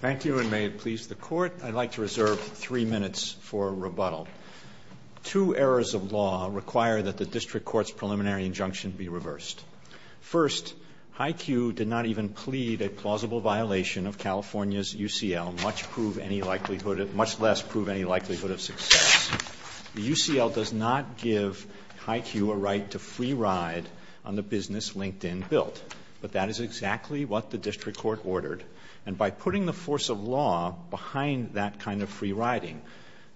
Thank you, and may it please the Court, I'd like to reserve three minutes for rebuttal. Two errors of law require that the District Court's preliminary injunction be reversed. First, HiQ did not even plead a plausible violation of California's UCL, much less prove any likelihood of success. The UCL does not give HiQ a right to free ride on the business of LinkedIn built. But that is exactly what the District Court ordered. And by putting the force of law behind that kind of free riding,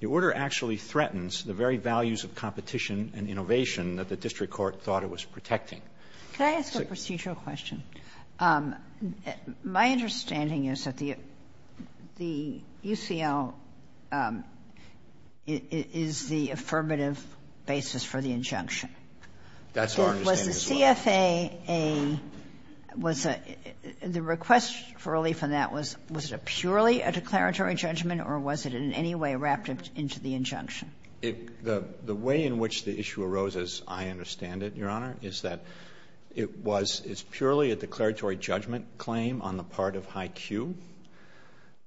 the order actually threatens the very values of competition and innovation that the District Court thought it was protecting. Kagan. Could I ask a procedural question? My understanding is that the UCL is the affirmative basis for the injunction. The CFAA was a — the request for relief on that was, was it purely a declaratory judgment or was it in any way wrapped into the injunction? The way in which the issue arose, as I understand it, Your Honor, is that it was — it's purely a declaratory judgment claim on the part of HiQ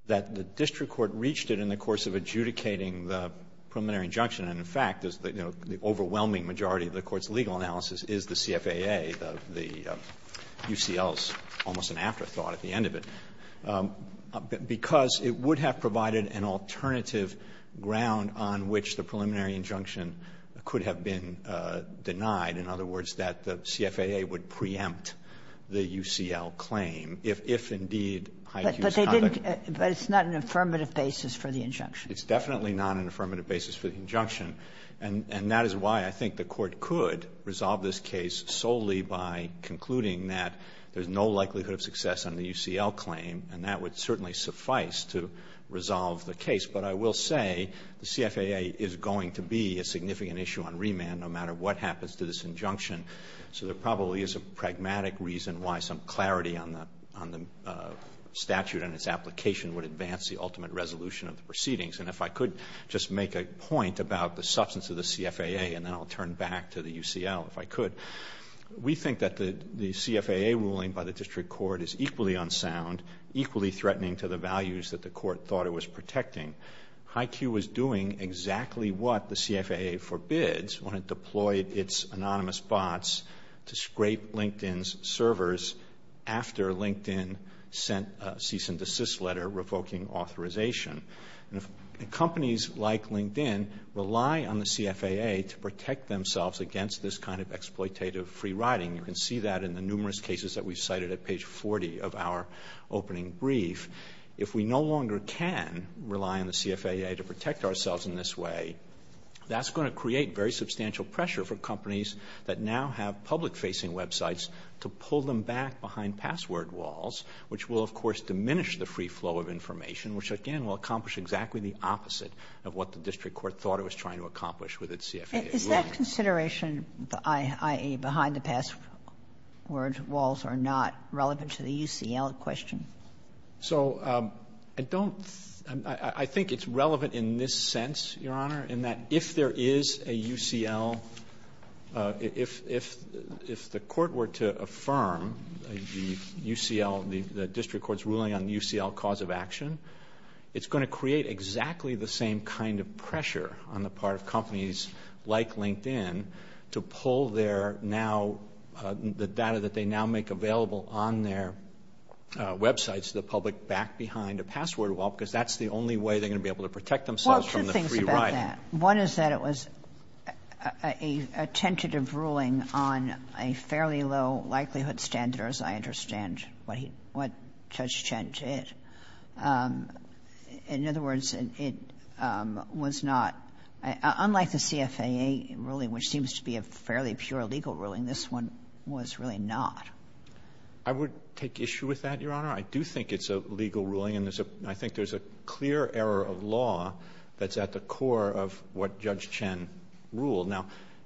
that the District Court reached it in the course of adjudicating the preliminary injunction. And, in fact, the overwhelming majority of the Court's legal analysis is the CFAA, the UCL's almost an afterthought at the end of it, because it would have provided an alternative ground on which the preliminary injunction could have been denied. In other words, that the CFAA would preempt the UCL claim if, if indeed HiQ's conduct. But they didn't — but it's not an affirmative basis for the injunction. It's definitely not an affirmative basis for the injunction. And that is why I think the Court could resolve this case solely by concluding that there's no likelihood of success on the UCL claim, and that would certainly suffice to resolve the case. But I will say the CFAA is going to be a significant issue on remand no matter what happens to this injunction. So there probably is a pragmatic reason why some clarity on the — on the statute and its application would advance the ultimate resolution of the proceedings. And if I could just make a point about the substance of the CFAA, and then I'll turn back to the UCL if I could. We think that the CFAA ruling by the District Court is equally unsound, equally threatening to the values that the Court thought it was protecting. HiQ was doing exactly what the CFAA forbids when it deployed its anonymous bots to scrape LinkedIn's servers after LinkedIn sent a cease and desist authorization. Companies like LinkedIn rely on the CFAA to protect themselves against this kind of exploitative free-riding. You can see that in the numerous cases that we've cited at page 40 of our opening brief. If we no longer can rely on the CFAA to protect ourselves in this way, that's going to create very substantial pressure for companies that now have public-facing websites to pull them back behind password walls, which will of course diminish the free flow of information, which again will accomplish exactly the opposite of what the District Court thought it was trying to accomplish with its CFAA ruling. Is that consideration, i.e., behind the password walls are not relevant to the UCL question? So I don't — I think it's relevant in this sense, Your Honor, in that if there is a UCL — If the court were to affirm the UCL, the District Court's ruling on UCL cause of action, it's going to create exactly the same kind of pressure on the part of companies like LinkedIn to pull their now — the data that they now make available on their websites to the public back behind a password wall because that's the only way they're going to be able to protect themselves from the free ride. One is that it was a tentative ruling on a fairly low likelihood standard, as I understand what Judge Chen did. In other words, it was not — unlike the CFAA ruling, which seems to be a fairly pure legal ruling, this one was really not. I would take issue with that, Your Honor. I do think it's a legal ruling, and I think there's a clear error of law that's at the core of what Judge Chen ruled. Now,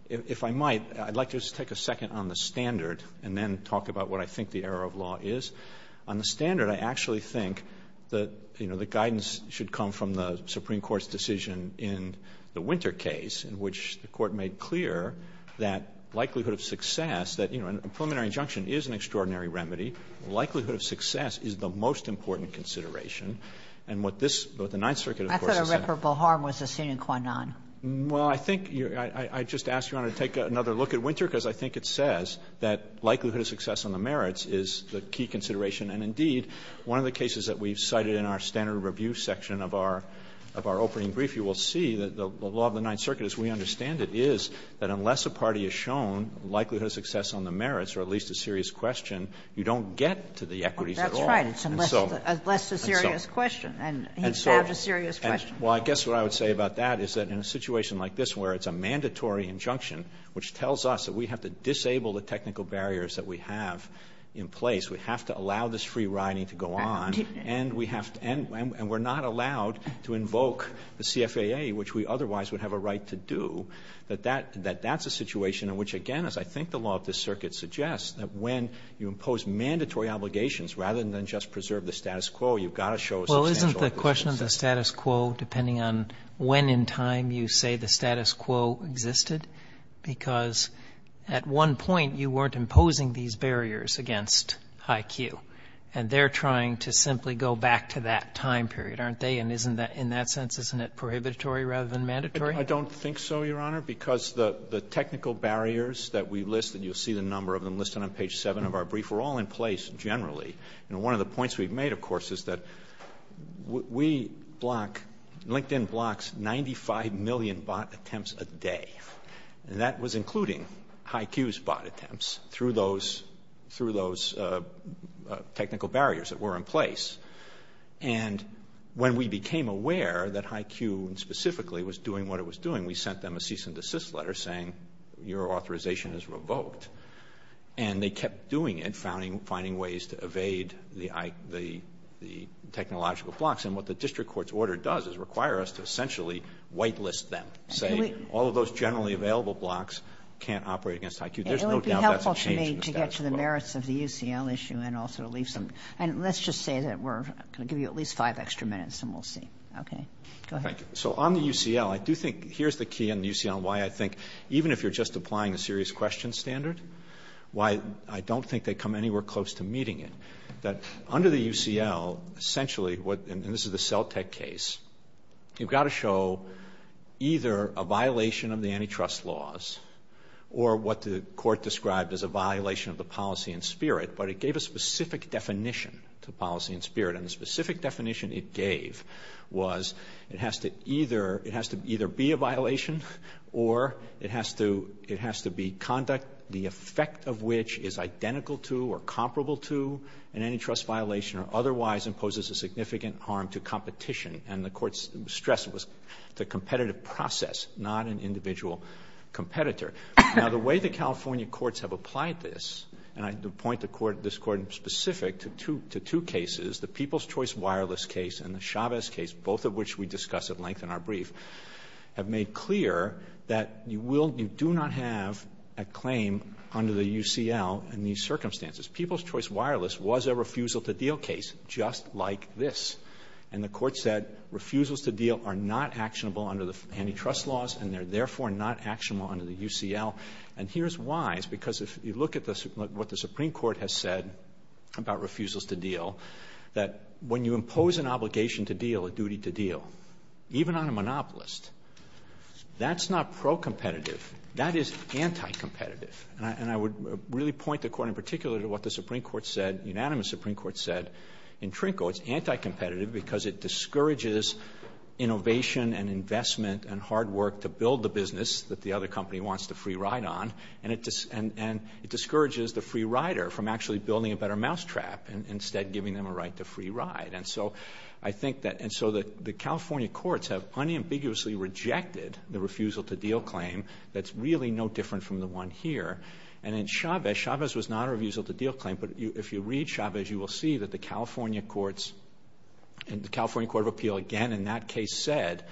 if I might, I'd like to just take a second on the standard and then talk about what I think the error of law is. On the standard, I actually think that, you know, the guidance should come from the Supreme Court's decision in the Winter case, in which the Court made clear that likelihood of success — that, you know, a preliminary injunction is an extraordinary remedy. Likelihood of success is the most important consideration. And what this — what the Ninth Circuit, of course, has said — And therefore, Behar was a sine qua non. Well, I think you're — I'd just ask, Your Honor, to take another look at Winter, because I think it says that likelihood of success on the merits is the key consideration. And indeed, one of the cases that we've cited in our standard review section of our opening brief, you will see that the law of the Ninth Circuit, as we understand it, is that unless a party is shown likelihood of success on the merits, or at least a serious question, you don't get to the equities at all. That's right. It's unless a serious question. And he's had a serious question. Well, I guess what I would say about that is that in a situation like this, where it's a mandatory injunction, which tells us that we have to disable the technical barriers that we have in place, we have to allow this free riding to go on, and we have to — and we're not allowed to invoke the CFAA, which we otherwise would have a right to do, that that — that that's a situation in which, again, as I think the law of this Circuit suggests, that when you impose mandatory obligations, rather than just preserve the status quo, you've got to show a substantial — But isn't the question of the status quo, depending on when in time you say the status quo existed, because at one point you weren't imposing these barriers against High Q, and they're trying to simply go back to that time period, aren't they? And isn't that — in that sense, isn't it prohibitory rather than mandatory? I don't think so, Your Honor, because the technical barriers that we list, and you'll see the number of them listed on page 7 of our brief, were all in place generally. And one of the points we've made, of course, is that we block — LinkedIn blocks 95 million bot attempts a day, and that was including High Q's bot attempts through those — through those technical barriers that were in place. And when we became aware that High Q specifically was doing what it was doing, we sent them a cease and desist letter saying, your authorization is revoked. And they kept doing it, finding ways to evade the technological blocks. And what the district court's order does is require us to essentially whitelist them, say all of those generally available blocks can't operate against High Q. There's no doubt that's a change in the status quo. It would be helpful to me to get to the merits of the UCL issue and also to leave some — and let's just say that we're going to give you at least five extra minutes and we'll see. Okay. Go ahead. Thank you. So on the UCL, I do think — here's the key on the UCL and why I think, even if you're just applying the serious questions standard, why I don't think they come anywhere close to meeting it. That under the UCL, essentially what — and this is the CELTEC case — you've got to show either a violation of the antitrust laws or what the court described as a violation of the policy in spirit, but it gave a specific definition to policy in spirit. And the specific definition it gave was it has to either — it has to either be a violation or it has to — it has to be conduct, the effect of which is identical to or comparable to an antitrust violation or otherwise imposes a significant harm to competition. And the court stressed it was the competitive process, not an individual competitor. Now, the way the California courts have applied this — and I point this court in specific to two cases, the People's Choice Wireless case and the Chavez case, both of which we hear that you will — you do not have a claim under the UCL in these circumstances. People's Choice Wireless was a refusal-to-deal case, just like this. And the court said refusals-to-deal are not actionable under the antitrust laws and they're therefore not actionable under the UCL. And here's why. It's because if you look at what the Supreme Court has said about refusals-to-deal, that when you impose an obligation-to-deal, a duty-to-deal, even on a monopolist, that's not pro-competitive. That is anti-competitive. And I would really point the court in particular to what the Supreme Court said, unanimous Supreme Court said, in Trinco, it's anti-competitive because it discourages innovation and investment and hard work to build the business that the other company wants the free ride on, and it discourages the free rider from actually building a better mousetrap and instead giving them a right to free ride. And so I think that, and so the California courts have unambiguously rejected the refusal-to-deal claim that's really no different from the one here. And in Chavez, Chavez was not a refusal-to-deal claim, but if you read Chavez, you will see that the California courts, and the California Court of Appeal again in that case said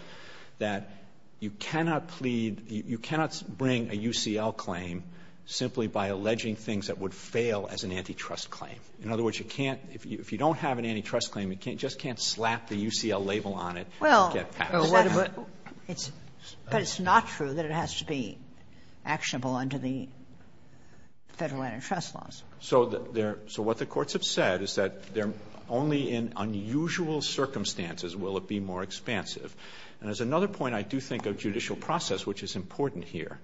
that you cannot plead, you cannot bring a UCL claim simply by alleging things that would fail as an antitrust claim. In other words, you can't, if you don't have an antitrust claim, you just can't slap the UCL label on it and get passed. Kagan. But it's not true that it has to be actionable under the Federal antitrust laws. So what the courts have said is that only in unusual circumstances will it be more expansive. And as another point, I do think of judicial process, which is important here,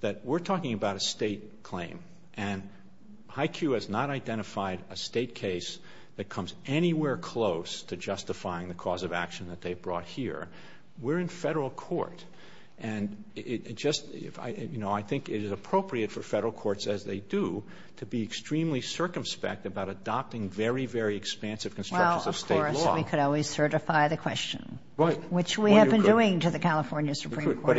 that we're talking about a State claim, and HYCU has not identified a State case that comes anywhere close to justifying the cause of action that they've brought here. We're in Federal court, and it just, you know, I think it is appropriate for Federal courts, as they do, to be extremely circumspect about adopting very, very expansive constructions of State law. Well, of course, we could always certify the question, which we have been doing to the But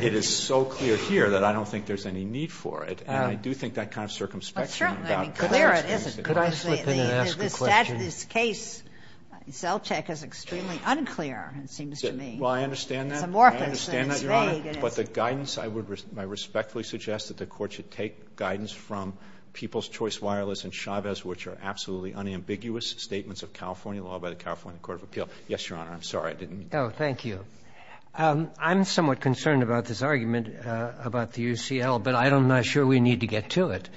it is so clear here that I don't think there's any need for it. And I do think that kind of circumspection about clarifying it is important. Sotomayor, could I slip in and ask a question? This case, Zelchek, is extremely unclear, it seems to me. Well, I understand that. It's amorphous and it's vague. I understand that, Your Honor, but the guidance, I respectfully suggest that the Court should take guidance from People's Choice Wireless and Chavez, which are absolutely unambiguous statements of California law by the California Court of Appeal. Yes, Your Honor, I'm sorry, I didn't mean to. Oh, thank you. I'm somewhat concerned about this argument about the UCL, but I'm not sure we need to get to it.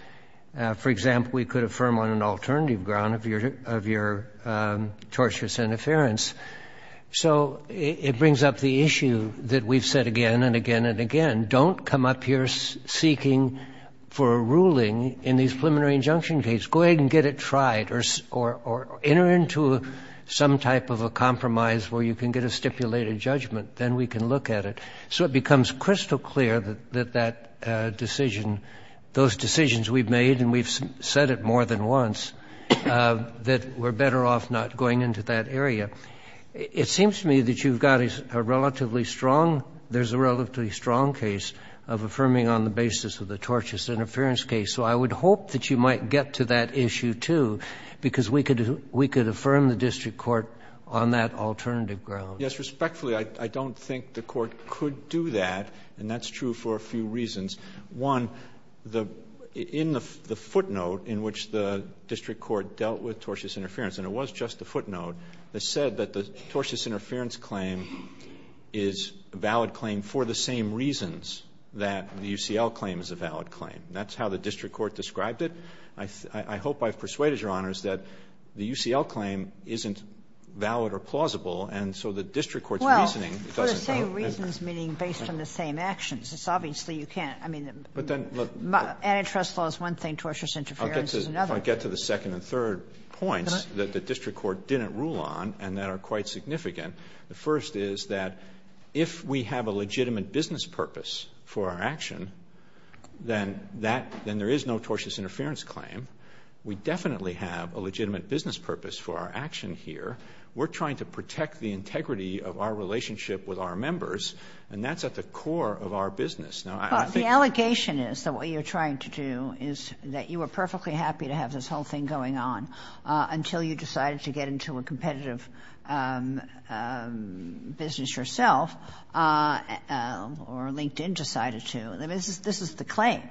For example, we could affirm on an alternative ground of your tortious interference. So it brings up the issue that we've said again and again and again, don't come up here seeking for a ruling in these preliminary injunction case. Go ahead and get it tried or enter into some type of a compromise where you can get a stipulated judgment, then we can look at it. So it becomes crystal clear that that decision, those decisions we've made, and we've said it more than once, that we're better off not going into that area. It seems to me that you've got a relatively strong, there's a relatively strong case of affirming on the basis of the tortious interference case. So I would hope that you might get to that issue, too, because we could affirm the district court on that alternative ground. Yes, respectfully, I don't think the court could do that, and that's true for a few reasons. One, in the footnote in which the district court dealt with tortious interference, and it was just a footnote, it said that the tortious interference claim is a valid claim for the same reasons that the UCL claim is a valid claim. That's how the district court described it. I hope I've persuaded your honors that the UCL claim isn't valid or plausible, and so the district court's reasoning doesn't. Well, for the same reasons, meaning based on the same actions, it's obviously you can't, I mean, antitrust law is one thing, tortious interference is another. If I get to the second and third points that the district court didn't rule on and that are quite significant, the first is that if we have a legitimate business purpose for our action, then there is no tortious interference claim. We definitely have a legitimate business purpose for our action here. We're trying to protect the integrity of our relationship with our members, and that's at the core of our business. Now, I think- But the allegation is that what you're trying to do is that you were perfectly happy to have this whole thing going on until you decided to get into a competitive business yourself, or LinkedIn decided to. I mean, this is the claim,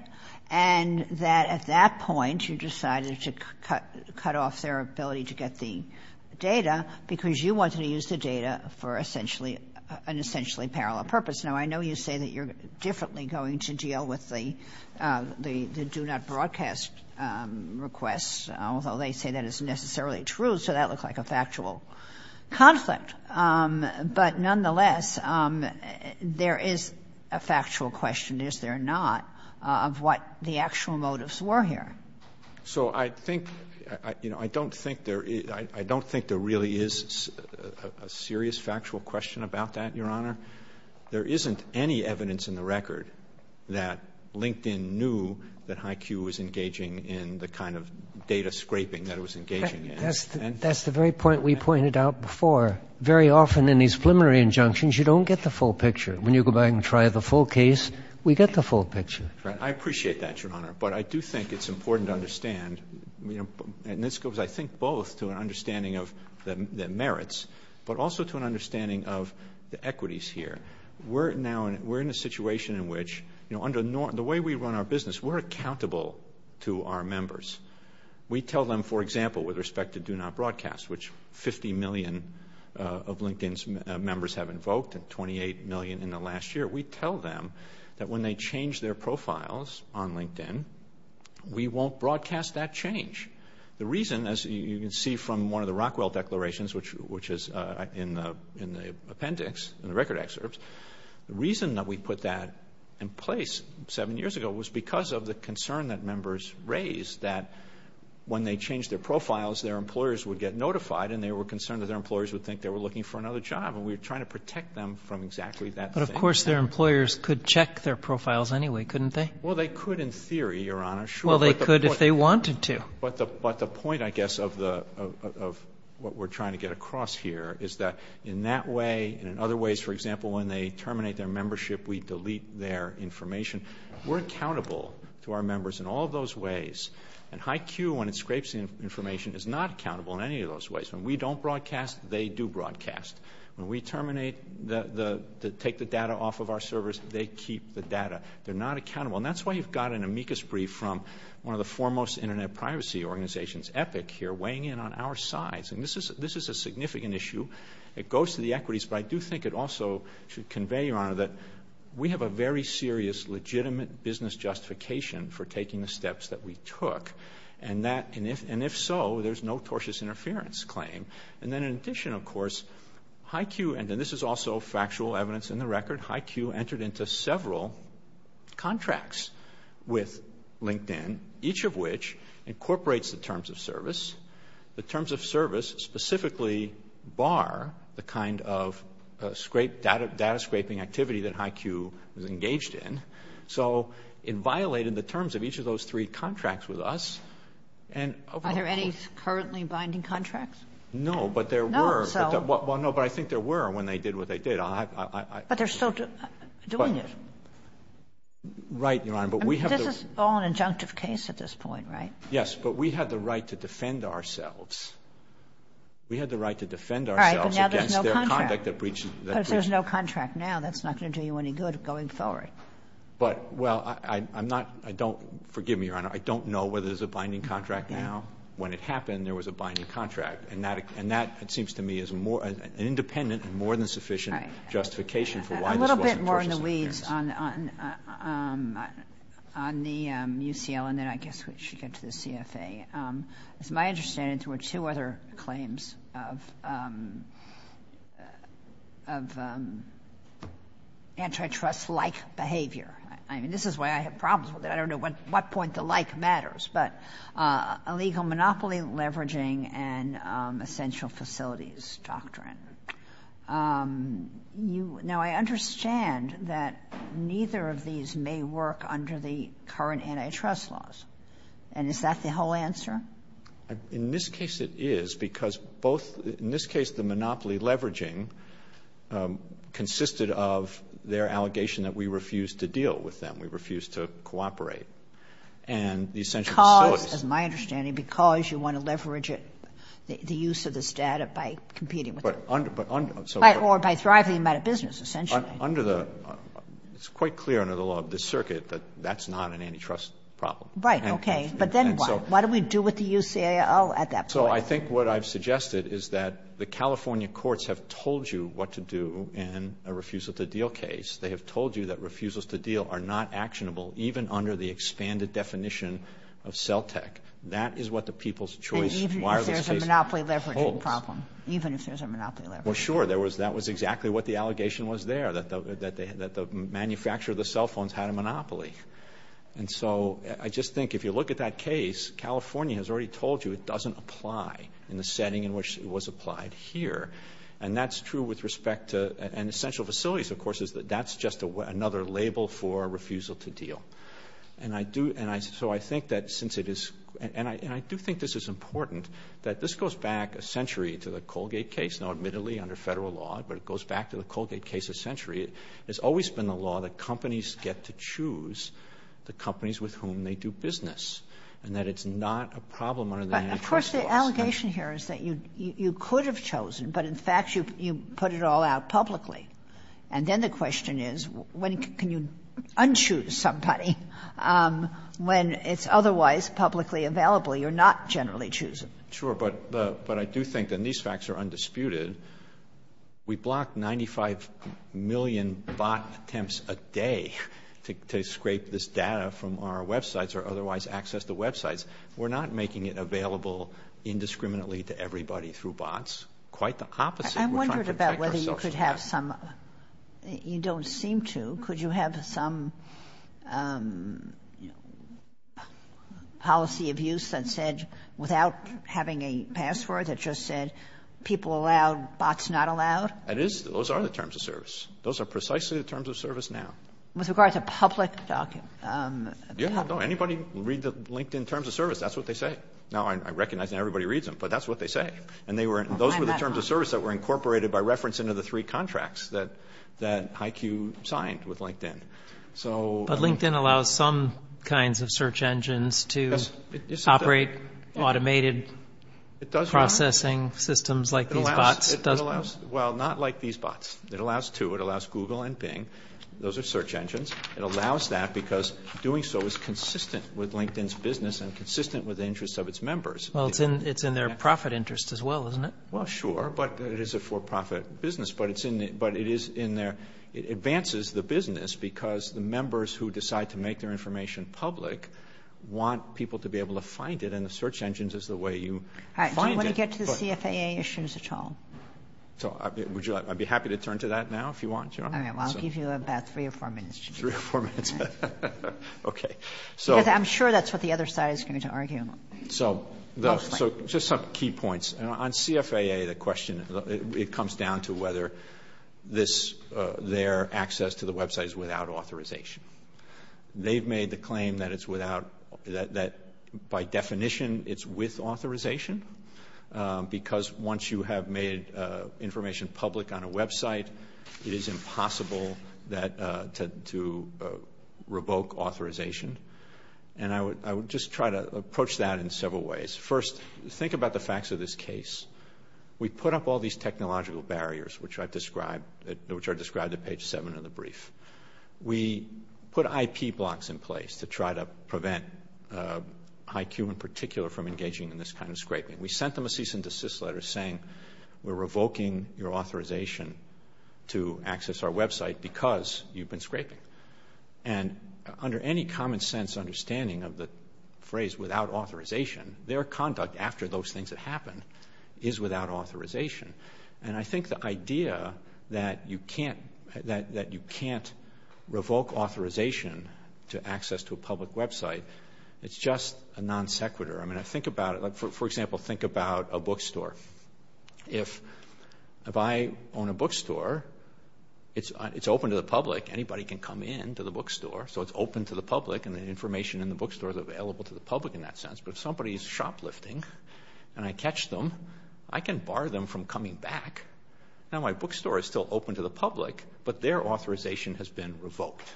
and that at that point, you decided to cut off their ability to get the data because you wanted to use the data for an essentially parallel purpose. Now, I know you say that you're differently going to deal with the do-not-broadcast requests, although they say that is necessarily true, so that looks like a factual conflict. But nonetheless, there is a factual question, is there not, of what the actual motives were here. So I think, you know, I don't think there really is a serious factual question about that, Your Honor. There isn't any evidence in the record that LinkedIn knew that HYCU was engaging in the kind of data scraping that it was engaging in. That's the very point we pointed out before. Very often in these preliminary injunctions, you don't get the full picture. When you go back and try the full case, we get the full picture. Right. I appreciate that, Your Honor. But I do think it's important to understand, and this goes, I think, both to an understanding of the merits, but also to an understanding of the equities here. We're now in a situation in which, you know, under the way we run our business, we're accountable to our members. We tell them, for example, with respect to do-not-broadcast, which 50 million of LinkedIn's members have invoked and 28 million in the last year, we tell them that when they change their profiles on LinkedIn, we won't broadcast that change. The reason, as you can see from one of the Rockwell declarations, which is in the appendix, in the record excerpts, the reason that we put that in place seven years ago was because of the concern that members raised that when they changed their profiles, their employers would get notified and they were concerned that their employers would think they were looking for another job, and we were trying to protect them from exactly that thing. And of course, their employers could check their profiles anyway, couldn't they? Well, they could in theory, Your Honor. Sure. Well, they could if they wanted to. But the point, I guess, of what we're trying to get across here is that in that way and in other ways, for example, when they terminate their membership, we delete their information. We're accountable to our members in all those ways, and HiQ, when it scrapes the information, is not accountable in any of those ways. When we don't broadcast, they do broadcast. When we terminate, take the data off of our servers, they keep the data. They're not accountable. And that's why you've got an amicus brief from one of the foremost internet privacy organizations, Epic, here, weighing in on our sides. And this is a significant issue. It goes to the equities, but I do think it also should convey, Your Honor, that we have a very serious legitimate business justification for taking the steps that we took, and if so, there's no tortious interference claim. And then in addition, of course, HiQ, and this is also factual evidence in the record, HiQ entered into several contracts with LinkedIn, each of which incorporates the Terms of Service. The Terms of Service specifically bar the kind of data scraping activity that HiQ was engaged in. So it violated the terms of each of those three contracts with us. Are there any currently binding contracts? No, but there were. Well, no, but I think there were when they did what they did. But they're still doing it. Right, Your Honor. But we have to- This is all an injunctive case at this point, right? Yes, but we had the right to defend ourselves. We had the right to defend ourselves against their conduct that breached- But if there's no contract now, that's not going to do you any good going forward. But, well, I'm not, I don't, forgive me, Your Honor, I don't know whether there's a binding contract now. When it happened, there was a binding contract. And that, it seems to me, is more, an independent and more than sufficient justification for why this wasn't- A little bit more in the weeds on the UCL, and then I guess we should get to the CFA. It's my understanding there were two other claims of antitrust-like behavior. I mean, this is why I have problems with it. I don't know what point the like matters. But illegal monopoly leveraging and essential facilities doctrine. Now, I understand that neither of these may work under the current antitrust laws. And is that the whole answer? In this case, it is, because both, in this case, the monopoly leveraging consisted of their allegation that we refused to deal with them. We refused to cooperate. And the essential facilities- Because, as my understanding, because you want to leverage it, the use of the status by competing with them. But under, so- Or by thriving by the business, essentially. Under the, it's quite clear under the law of the circuit that that's not an antitrust problem. Right. Okay. But then what? What do we do with the UCL at that point? So I think what I've suggested is that the California courts have told you what to do in a refusal to deal case. They have told you that refusals to deal are not actionable even under the expanded definition of CELTEC. That is what the people's choice- And even if there's a monopoly leveraging problem. Even if there's a monopoly leveraging problem. Well, sure. There was, that was exactly what the allegation was there, that the manufacturer of the cell phones had a monopoly. And so I just think if you look at that case, California has already told you it doesn't apply in the setting in which it was applied here. And that's true with respect to, and essential facilities, of course, is that that's just another label for refusal to deal. And I do, and I, so I think that since it is, and I, and I do think this is important that this goes back a century to the Colgate case, now admittedly under federal law, but it goes back to the Colgate case a century. It's always been the law that companies get to choose the companies with whom they do business. And that it's not a problem under the- But of course the allegation here is that you, you could have chosen, but in fact you, you put it all out publicly. And then the question is, when can you un-choose somebody when it's otherwise publicly available? You're not generally choosing. Sure. But, but I do think, and these facts are undisputed, we block 95 million bot attempts a day to, to scrape this data from our websites or otherwise access the websites. We're not making it available indiscriminately to everybody through bots. Quite the opposite. I wondered about whether you could have some, you don't seem to, could you have some policy of use that said, without having a password that just said, people allowed, bots not allowed? It is, those are the terms of service. Those are precisely the terms of service now. With regard to public docu- Yeah, no, anybody read the LinkedIn terms of service, that's what they say. Now I recognize that everybody reads them, but that's what they say. And they were, those were the terms of service that were incorporated by reference into the three contracts that, that IQ signed with LinkedIn. So- But LinkedIn allows some kinds of search engines to operate automated processing systems like these bots, doesn't it? Well, not like these bots. It allows two. It allows Google and Bing. Those are search engines. It allows that because doing so is consistent with LinkedIn's business and consistent with the interests of its members. Well, it's in, it's in their profit interest as well, isn't it? Well, sure. But it is a for-profit business, but it's in the, but it is in their, it advances the business because the members who decide to make their information public want people to be able to find it. And the search engines is the way you- I don't want to get to the CFAA issues at all. So would you like, I'd be happy to turn to that now, if you want. All right, well, I'll give you about three or four minutes. Three or four minutes. Okay. So- Because I'm sure that's what the other side is going to argue. So just some key points. On CFAA, the question, it comes down to whether this, their access to the website is without authorization. They've made the claim that it's without, that by definition, it's with authorization because once you have made information public on a website, it is impossible that to revoke authorization. And I would, I would just try to approach that in several ways. First, think about the facts of this case. We put up all these technological barriers, which I've described, which are described at page seven of the brief. We put IP blocks in place to try to prevent, IQ in particular, from engaging in this kind of scraping. We sent them a cease and desist letter saying, we're revoking your authorization to access our website because you've been scraping. And under any common sense understanding of the phrase without authorization, their conduct after those things that happen is without authorization. And I think the idea that you can't, that you can't revoke authorization to access to a public website, it's just a non sequitur. I mean, I think about it, like for example, think about a bookstore. If I own a bookstore, it's open to the public. Anybody can come in to the bookstore. So it's open to the public and the information in the bookstore is available to the public in that sense. But if somebody's shoplifting and I catch them, I can bar them from coming back. Now my bookstore is still open to the public, but their authorization has been revoked.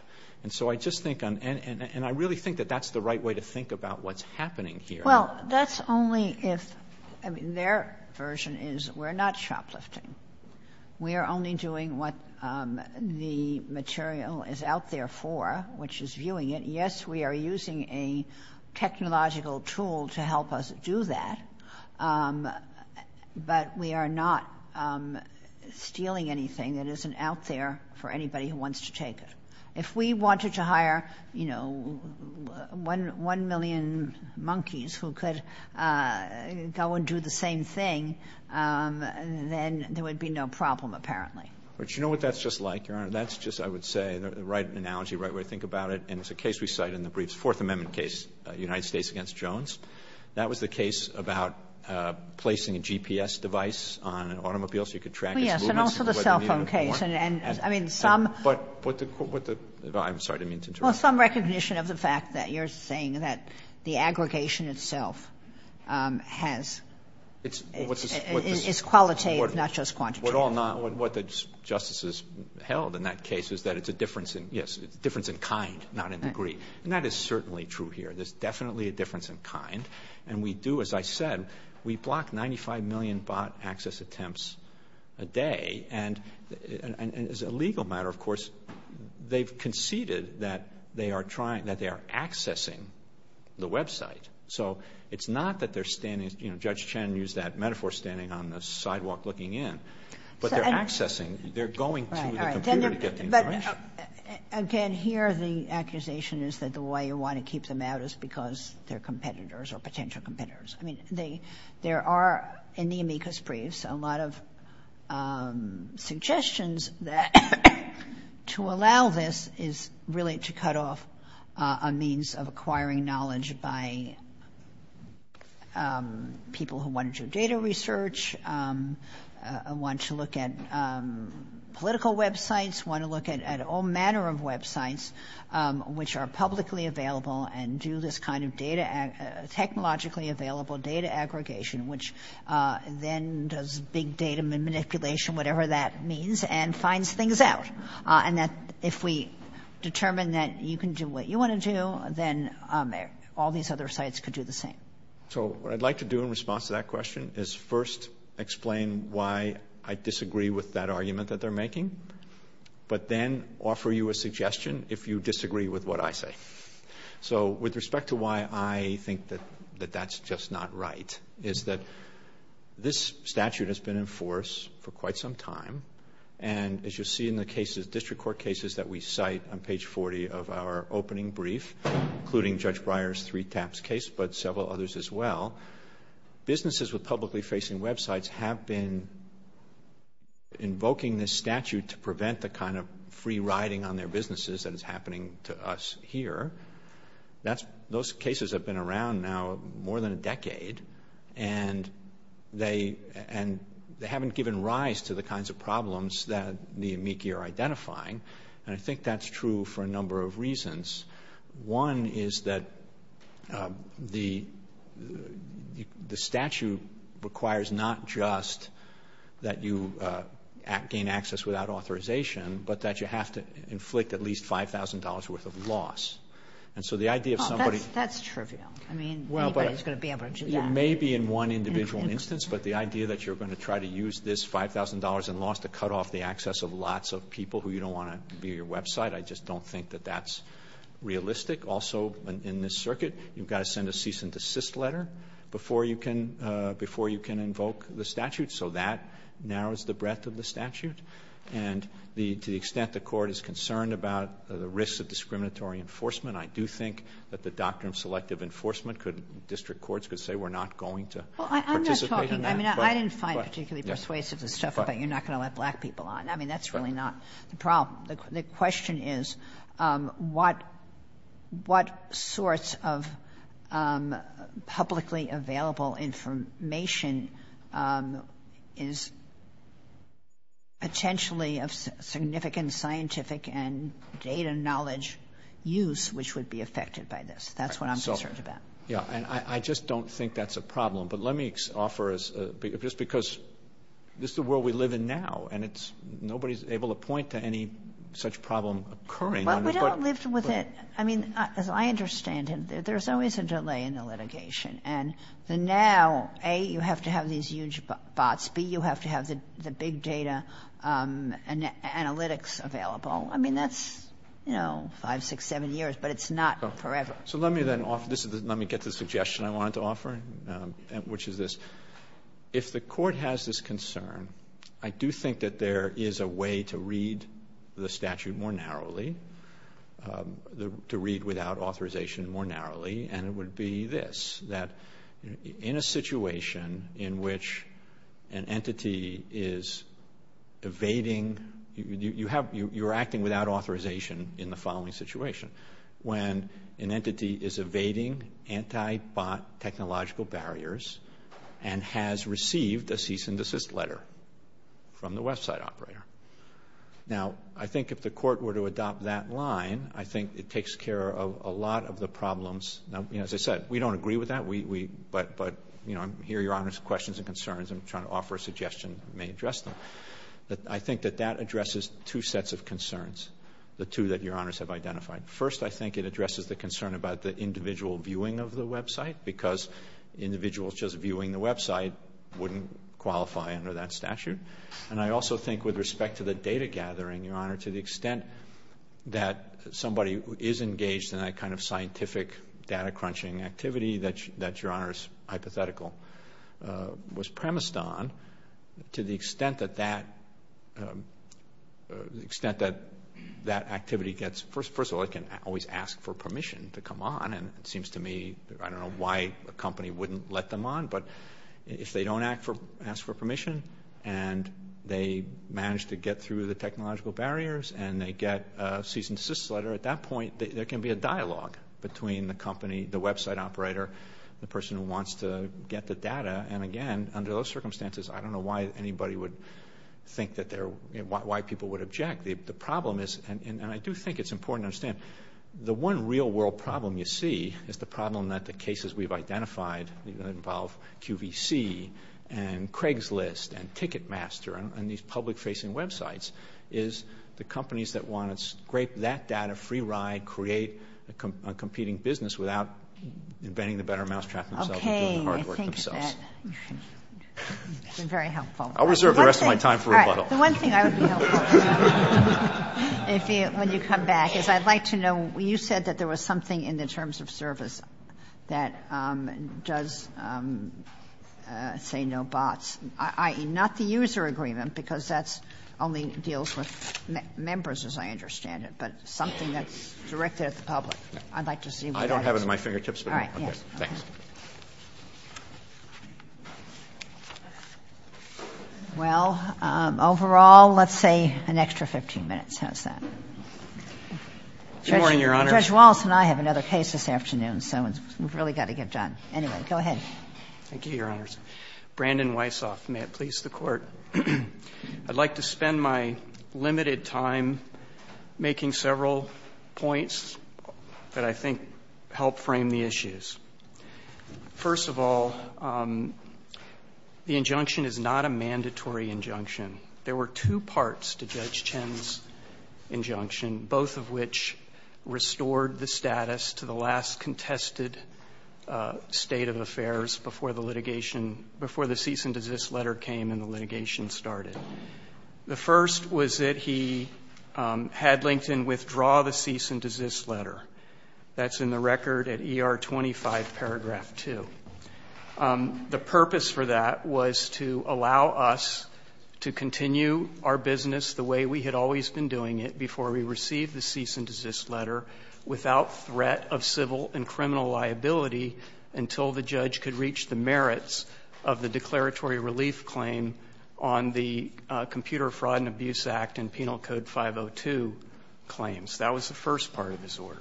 And so I just think, and I really think that that's the right way to think about what's happening here. Well, that's only if, I mean, their version is we're not shoplifting. We are only doing what the material is out there for, which is viewing it. Yes, we are using a technological tool to help us do that. But we are not stealing anything that isn't out there for anybody who wants to take it. If we wanted to hire, you know, 1 million monkeys who could go and do the same thing, then there would be no problem, apparently. But you know what that's just like, Your Honor? That's just, I would say, the right analogy, right way to think about it. And it's a case we cite in the briefs, Fourth Amendment case, United States against Jones. That was the case about placing a GPS device on an automobile so you could track its movements. Yes, and also the cell phone case. And I mean, some recognition of the fact that you're saying that the aggregation itself is qualitative, not just quantitative. What the justices held in that case is that it's a difference in, yes, difference in kind, not in degree. And that is certainly true here. There's definitely a difference in kind. And we do, as I said, we block 95 million bot access attempts a day. And as a legal matter, of course, they've conceded that they are trying, that they are accessing the website. So it's not that they're standing, you know, Judge Chen used that metaphor, standing on the sidewalk, looking in. But they're accessing, they're going to the computer to get the information. But again, here the accusation is that the way you want to keep them out is because they're competitors or potential competitors. I mean, there are, in the amicus briefs, a lot of suggestions that to allow this is really to cut off a means of acquiring knowledge by people who want to do data research, want to look at political websites, want to look at all manner of websites, which are publicly available and do this kind of technologically available data aggregation, which then does big data manipulation, whatever that means, and finds things out. And that if we determine that you can do what you want to do, then all these other sites could do the same. So what I'd like to do in response to that question is first explain why I disagree with that argument that they're making, but then offer you a suggestion if you disagree with what I say. So with respect to why I think that that's just not right is that this statute has been in force for quite some time. And as you'll see in the cases, district court cases that we cite on page 40 of our opening brief, including Judge Breyer's three taps case, but several others as well, businesses with publicly facing websites have been invoking this statute to prevent the kind of free riding on their businesses that is here. Those cases have been around now more than a decade and they haven't given rise to the kinds of problems that the amici are identifying. And I think that's true for a number of reasons. One is that the statute requires not just that you gain access without authorization, but that you have to inflict at least $5,000 worth of loss. And so the idea of somebody... That's trivial. I mean, anybody's going to be able to do that. It may be in one individual instance, but the idea that you're going to try to use this $5,000 in loss to cut off the access of lots of people who you don't want to view your website, I just don't think that that's realistic. Also in this circuit, you've got to send a cease and desist letter before you can invoke the statute. So that narrows the breadth of the statute. And to the extent the court is concerned about the risks of discriminatory enforcement, I do think that the doctrine of selective enforcement could, district courts could say, we're not going to participate in that. Well, I'm not talking, I mean, I didn't find particularly persuasive the stuff about you're not going to let black people on. I mean, that's really not the problem. The question is what sorts of publicly available information is potentially of significant scientific and data knowledge use, which would be affected by this? That's what I'm concerned about. Yeah. And I just don't think that's a problem, but let me offer as a, just because this is the world we live in now and it's, nobody's able to point to any such problem occurring. But we don't live with it. I mean, as I understand it, there's always a delay in the litigation and the now, A, you have to have these huge bots. B, you have to have the big data analytics available. I mean, that's, you know, five, six, seven years, but it's not forever. So let me then offer, this is the, let me get the suggestion I wanted to offer, which is this, if the court has this concern, I do think that there is a way to read the statute more narrowly, to read without authorization more narrowly. And it would be this, that in a situation in which an entity is evading, you have, you're acting without authorization in the following situation. When an entity is evading anti-bot technological barriers and has received a cease and desist letter from the website operator. Now, I think if the court were to adopt that line, I think it takes care of a lot of the problems. Now, you know, as I said, we don't agree with that. We, we, but, but, you know, I'm here, Your Honors, questions and concerns. I'm trying to offer a suggestion, may address them, but I think that that addresses two sets of concerns. The two that Your Honors have identified. First, I think it addresses the concern about the individual viewing of the website, because individuals just viewing the website wouldn't qualify under that statute. And I also think with respect to the data gathering, Your Honor, to the extent that somebody is engaged in that kind of scientific data crunching activity that, that Your Honors hypothetical was premised on, to the extent that that, extent that that activity gets, first, first of all, it can always ask for permission to come on. And it seems to me, I don't know why a company wouldn't let them on, but if they don't ask for permission and they manage to get through the technological barriers and they get a cease and desist letter, at that point, there can be a dialogue between the company, the website operator, the person who wants to get the data. And again, under those circumstances, I don't know why anybody would think that they're, why people would object. The problem is, and I do think it's important to understand, the one real world problem you see is the problem that the cases we've identified, that involve QVC and Craigslist and Ticketmaster and these public-facing websites, is the companies that want to scrape that data, free ride, create a competing business without inventing the better mousetrap themselves and doing the hard work themselves. Okay, I think that's been very helpful. I'll reserve the rest of my time for rebuttal. The one thing I would be helpful if you, when you come back is I'd like to know, you said that there was something in the terms of service that does say no bots, i.e., not the user agreement, because that's only deals with members as I understand it, but something that's directed at the public. I'd like to see what that is. I don't have it at my fingertips. All right. Yes. Thanks. Well, overall, let's say an extra 15 minutes, how's that? Good morning, Your Honor. Judge Walz and I have another case this afternoon, so we've really got to get done. Anyway, go ahead. Thank you, Your Honors. Brandon Weishoff, may it please the Court. I'd like to spend my limited time making several points that I think help frame the issues. First of all, the injunction is not a mandatory injunction. There were two parts to Judge Chen's injunction, both of which restored the status to the last contested state of affairs before the litigation, before the cease and desist letter came and the litigation started. The first was that he had LinkedIn withdraw the cease and desist letter. That's in the record at ER 25, paragraph 2. The purpose for that was to allow us to continue our business the way we had always been doing it before we received the cease and desist letter without threat of civil and criminal liability until the judge could reach the merits of the declaratory relief claim on the Computer Fraud and Abuse Act and Penal Code 502 claims. That was the first part of his order.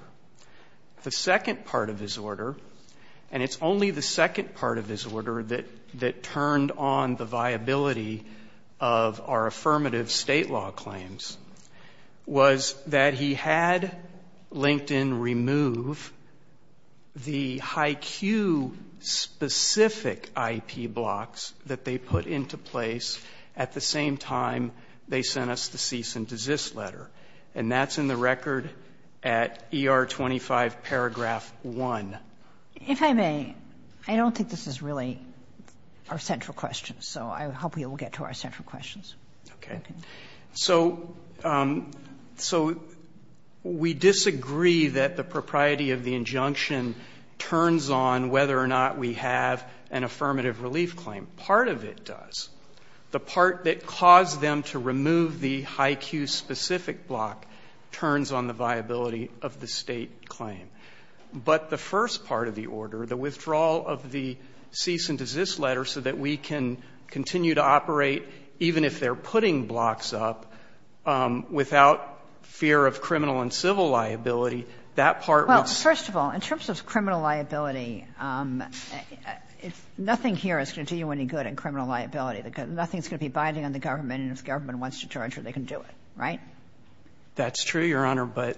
The second part of his order, and it's only the second part of his order that turned on the viability of our affirmative state law claims, was that he had LinkedIn remove the High Q specific IP blocks that they put into place at the same time they sent us the cease and desist letter. And that's in the record at ER 25, paragraph 1. If I may, I don't think this is really our central question, so I hope we will get to our central questions. Okay. So we disagree that the propriety of the injunction turns on whether or not we have an affirmative relief claim. Part of it does. The part that caused them to remove the High Q specific block turns on the viability of the State claim. But the first part of the order, the withdrawal of the cease and desist letter so that we can continue to operate even if they are putting blocks up without fear of criminal and civil liability, that part was. Well, first of all, in terms of criminal liability, nothing here is going to do you any good in criminal liability because nothing is going to be binding on the government and if the government wants to charge you, they can do it, right? That's true, Your Honor, but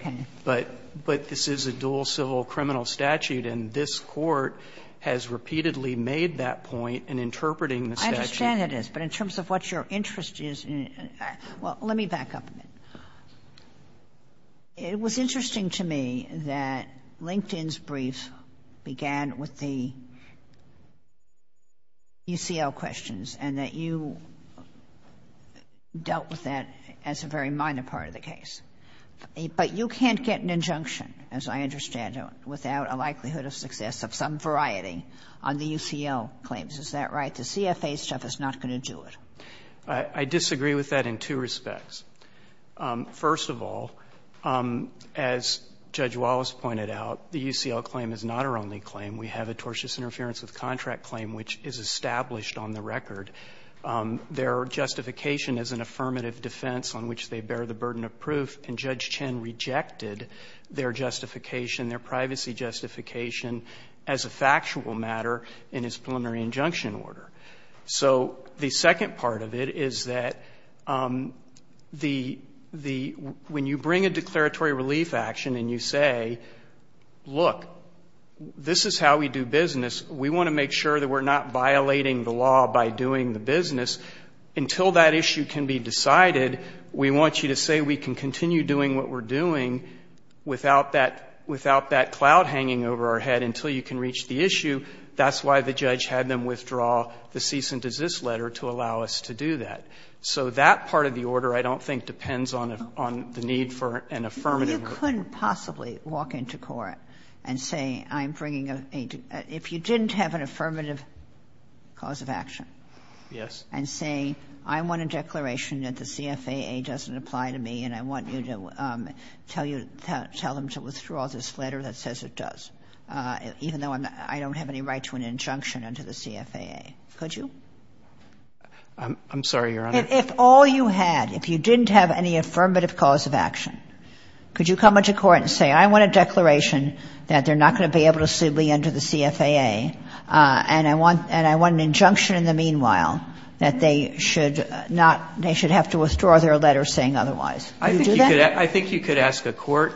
this is a dual civil criminal statute and this Court has repeatedly made that point in interpreting the statute. I understand it is, but in terms of what your interest is, well, let me back up a minute. It was interesting to me that LinkedIn's brief began with the UCL questions and that you dealt with that as a very minor part of the case. But you can't get an injunction, as I understand it, without a likelihood of success of some variety on the UCL claims. Is that right? The CFA stuff is not going to do it. I disagree with that in two respects. First of all, as Judge Wallace pointed out, the UCL claim is not our only claim. We have a tortious interference with contract claim, which is established on the record. Their justification is an affirmative defense on which they bear the burden of proof and Judge Chen rejected their justification, their privacy justification, as a factual matter in his preliminary injunction order. So the second part of it is that the the when you bring a declaratory relief action and you say, look, this is how we do business, we want to make sure that we're not violating the law by doing the business until that issue can be decided, we want you to say we can continue doing what we're doing without that without that cloud hanging over our head until you can reach the issue. That's why the judge had them withdraw the cease and desist letter to allow us to do that. So that part of the order, I don't think, depends on the need for an affirmative or You couldn't possibly walk into court and say I'm bringing a, if you didn't have an affirmative cause of action and say I want a declaration that the CFAA doesn't apply to me and I want you to tell you, tell them to withdraw this letter that says it does, even though I don't have any right to an injunction under the CFAA. Could you? I'm sorry, Your Honor. If all you had, if you didn't have any affirmative cause of action, could you come into court and say I want a declaration that they're not going to be able to sue me under the CFAA and I want an injunction in the meanwhile that they should not, they should have to withdraw their letter saying otherwise. Could you do that? I think you could ask a court,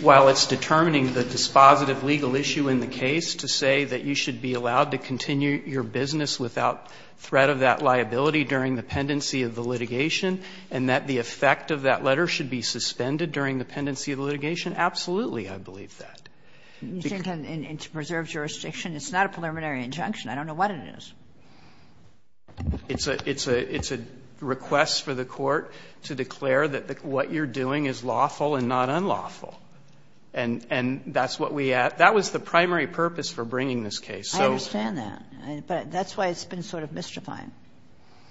while it's determining the dispositive legal issue in the case, to say that you should be allowed to continue your business without threat of that liability during the pendency of the litigation and that the effect of that letter should be suspended during the pendency of the litigation. Absolutely, I believe that. You think in preserved jurisdiction it's not a preliminary injunction. I don't know what it is. It's a request for the court to declare that what you're doing is lawful and not unlawful. And that's what we asked. That was the primary purpose for bringing this case. I understand that. But that's why it's been sort of mystifying.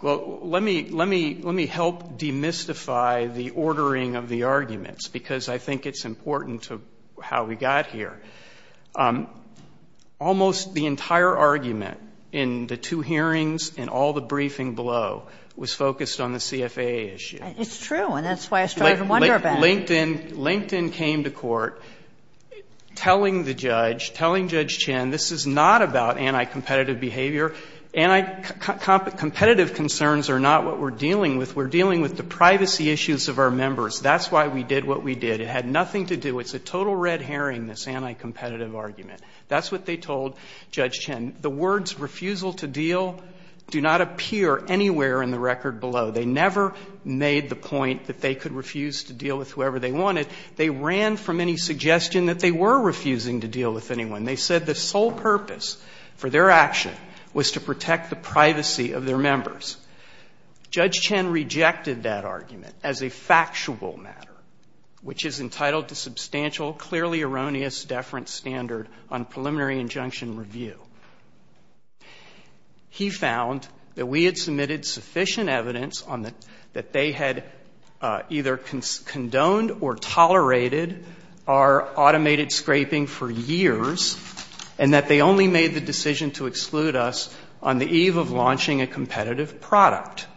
Well, let me help demystify the ordering of the arguments, because I think it's important to how we got here. Almost the entire argument in the two hearings and all the briefing below was focused on the CFA issue. It's true, and that's why I started to wonder about it. LinkedIn came to court telling the judge, telling Judge Chinn, this is not about anti-competitive behavior. Anti-competitive concerns are not what we're dealing with. We're dealing with the privacy issues of our members. That's why we did what we did. It had nothing to do. It's a total red herring, this anti-competitive argument. That's what they told Judge Chinn. The words refusal to deal do not appear anywhere in the record below. They never made the point that they could refuse to deal with whoever they wanted. They ran from any suggestion that they were refusing to deal with anyone. They said the sole purpose for their action was to protect the privacy of their members. Judge Chinn rejected that argument as a factual matter, which is entitled to substantial, clearly erroneous deference standard on preliminary injunction review. He found that we had submitted sufficient evidence that they had either condoned or tolerated our automated scraping for years, and that they only made the decision to exclude us on the eve of launching a competitive product.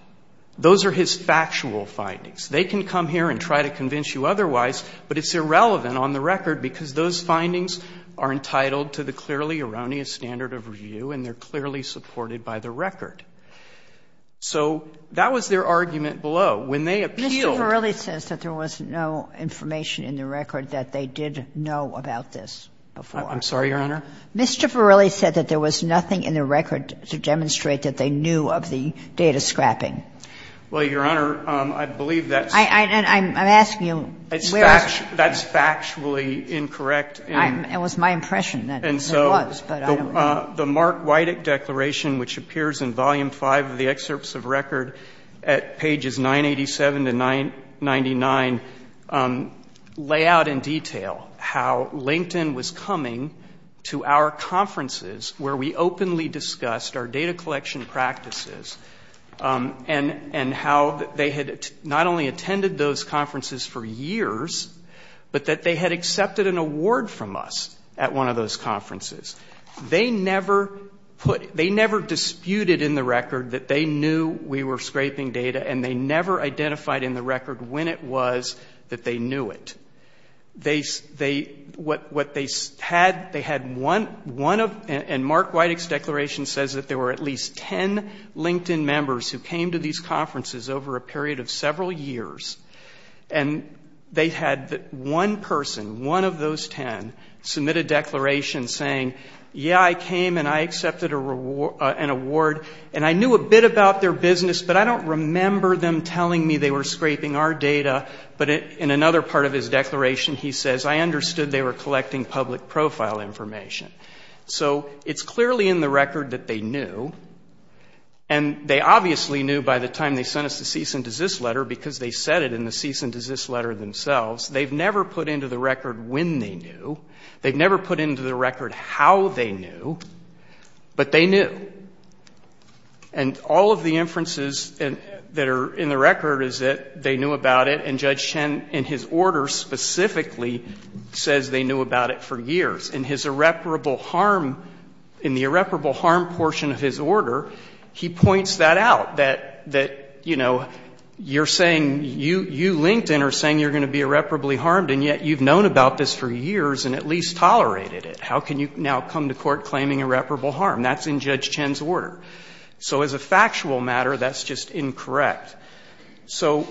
Those are his factual findings. They can come here and try to convince you otherwise, but it's irrelevant on the record because those findings are entitled to the clearly erroneous standard of review, and they're clearly supported by the record. So that was their argument below. When they appealed to the Court of Appeals, they said that there was no information in the record that they did know about this before. I'm sorry, Your Honor? Mr. Farrelly said that there was nothing in the record to demonstrate that they knew of the data scrapping. Well, Your Honor, I believe that's the case. I'm asking you where that is. That's factually incorrect. It was my impression that it was, but I don't know. And so the Mark Wydick Declaration, which appears in Volume 5 of the Excerpts of Record at pages 987 to 999, lay out in detail how LinkedIn was coming to our conferences where we openly discussed our data collection practices and how they had not only attended those conferences for years, but that they had accepted an award from us at one of those conferences. They never put, they never disputed in the record that they knew we were scraping data and they never identified in the record when it was that they knew it. They, they, what, what they had, they had one, one of, and Mark Wydick's Declaration says that there were at least ten LinkedIn members who came to these conferences over a period of several years and they had one person, one of those ten, submit a declaration saying, yeah, I came and I accepted a reward, an award, and I knew a bit about their business, but I don't remember them telling me they were scraping our data. But in another part of his declaration he says, I understood they were collecting public profile information. So it's clearly in the record that they knew, and they obviously knew by the time they sent us the cease and desist letter because they said it in the cease and desist letter themselves. They've never put into the record when they knew. They've never put into the record how they knew, but they knew. And all of the inferences that are in the record is that they knew about it, and Judge Chen in his order specifically says they knew about it for years. In his irreparable harm, in the irreparable harm portion of his order, he points that out, that, that, you know, you're saying, you, you LinkedIn are saying you're going to be irreparably harmed, and yet you've known about this for years and at least tolerated it. How can you now come to court claiming irreparable harm? That's in Judge Chen's order. So as a factual matter, that's just incorrect. So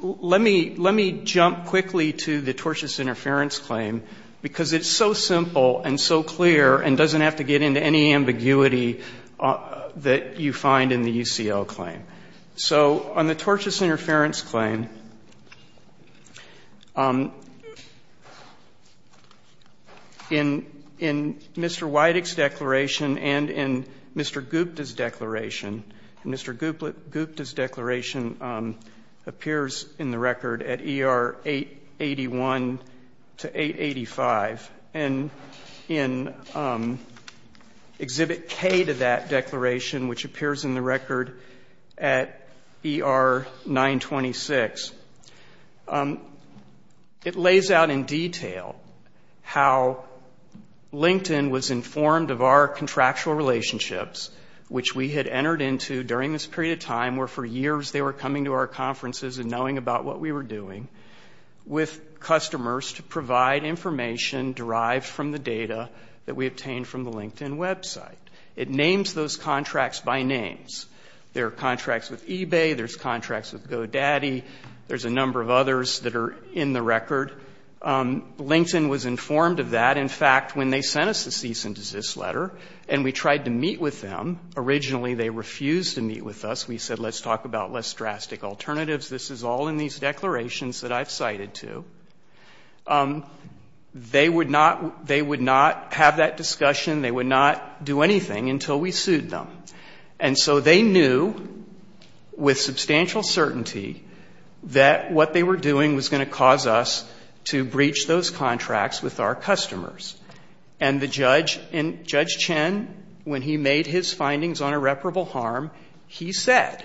let me, let me jump quickly to the tortious interference claim because it's so simple and so clear and doesn't have to get into any ambiguity that you find in the UCL claim. So on the tortious interference claim, in, in Mr. Wydick's declaration and in Mr. Gupta's declaration, Mr. Gupta's declaration appears in the record at ER 881 to 885, and in Exhibit K to that declaration, which appears in the record at ER 926. It lays out in detail how LinkedIn was informed of our contractual relationships, which we had entered into during this period of time where for years they were coming to our conferences and knowing about what we were doing, with customers to provide information derived from the data that we obtained from the LinkedIn website. It names those contracts by names. There are contracts with eBay. There's contracts with GoDaddy. There's a number of others that are in the record. LinkedIn was informed of that, in fact, when they sent us the cease and desist letter, and we tried to meet with them. Originally they refused to meet with us. We said let's talk about less drastic alternatives. This is all in these declarations that I've cited, too. They would not have that discussion. They would not do anything until we sued them. And so they knew with substantial certainty that what they were doing was going to cause us to breach those contracts with our customers. And the judge, Judge Chen, when he made his findings on irreparable harm, he said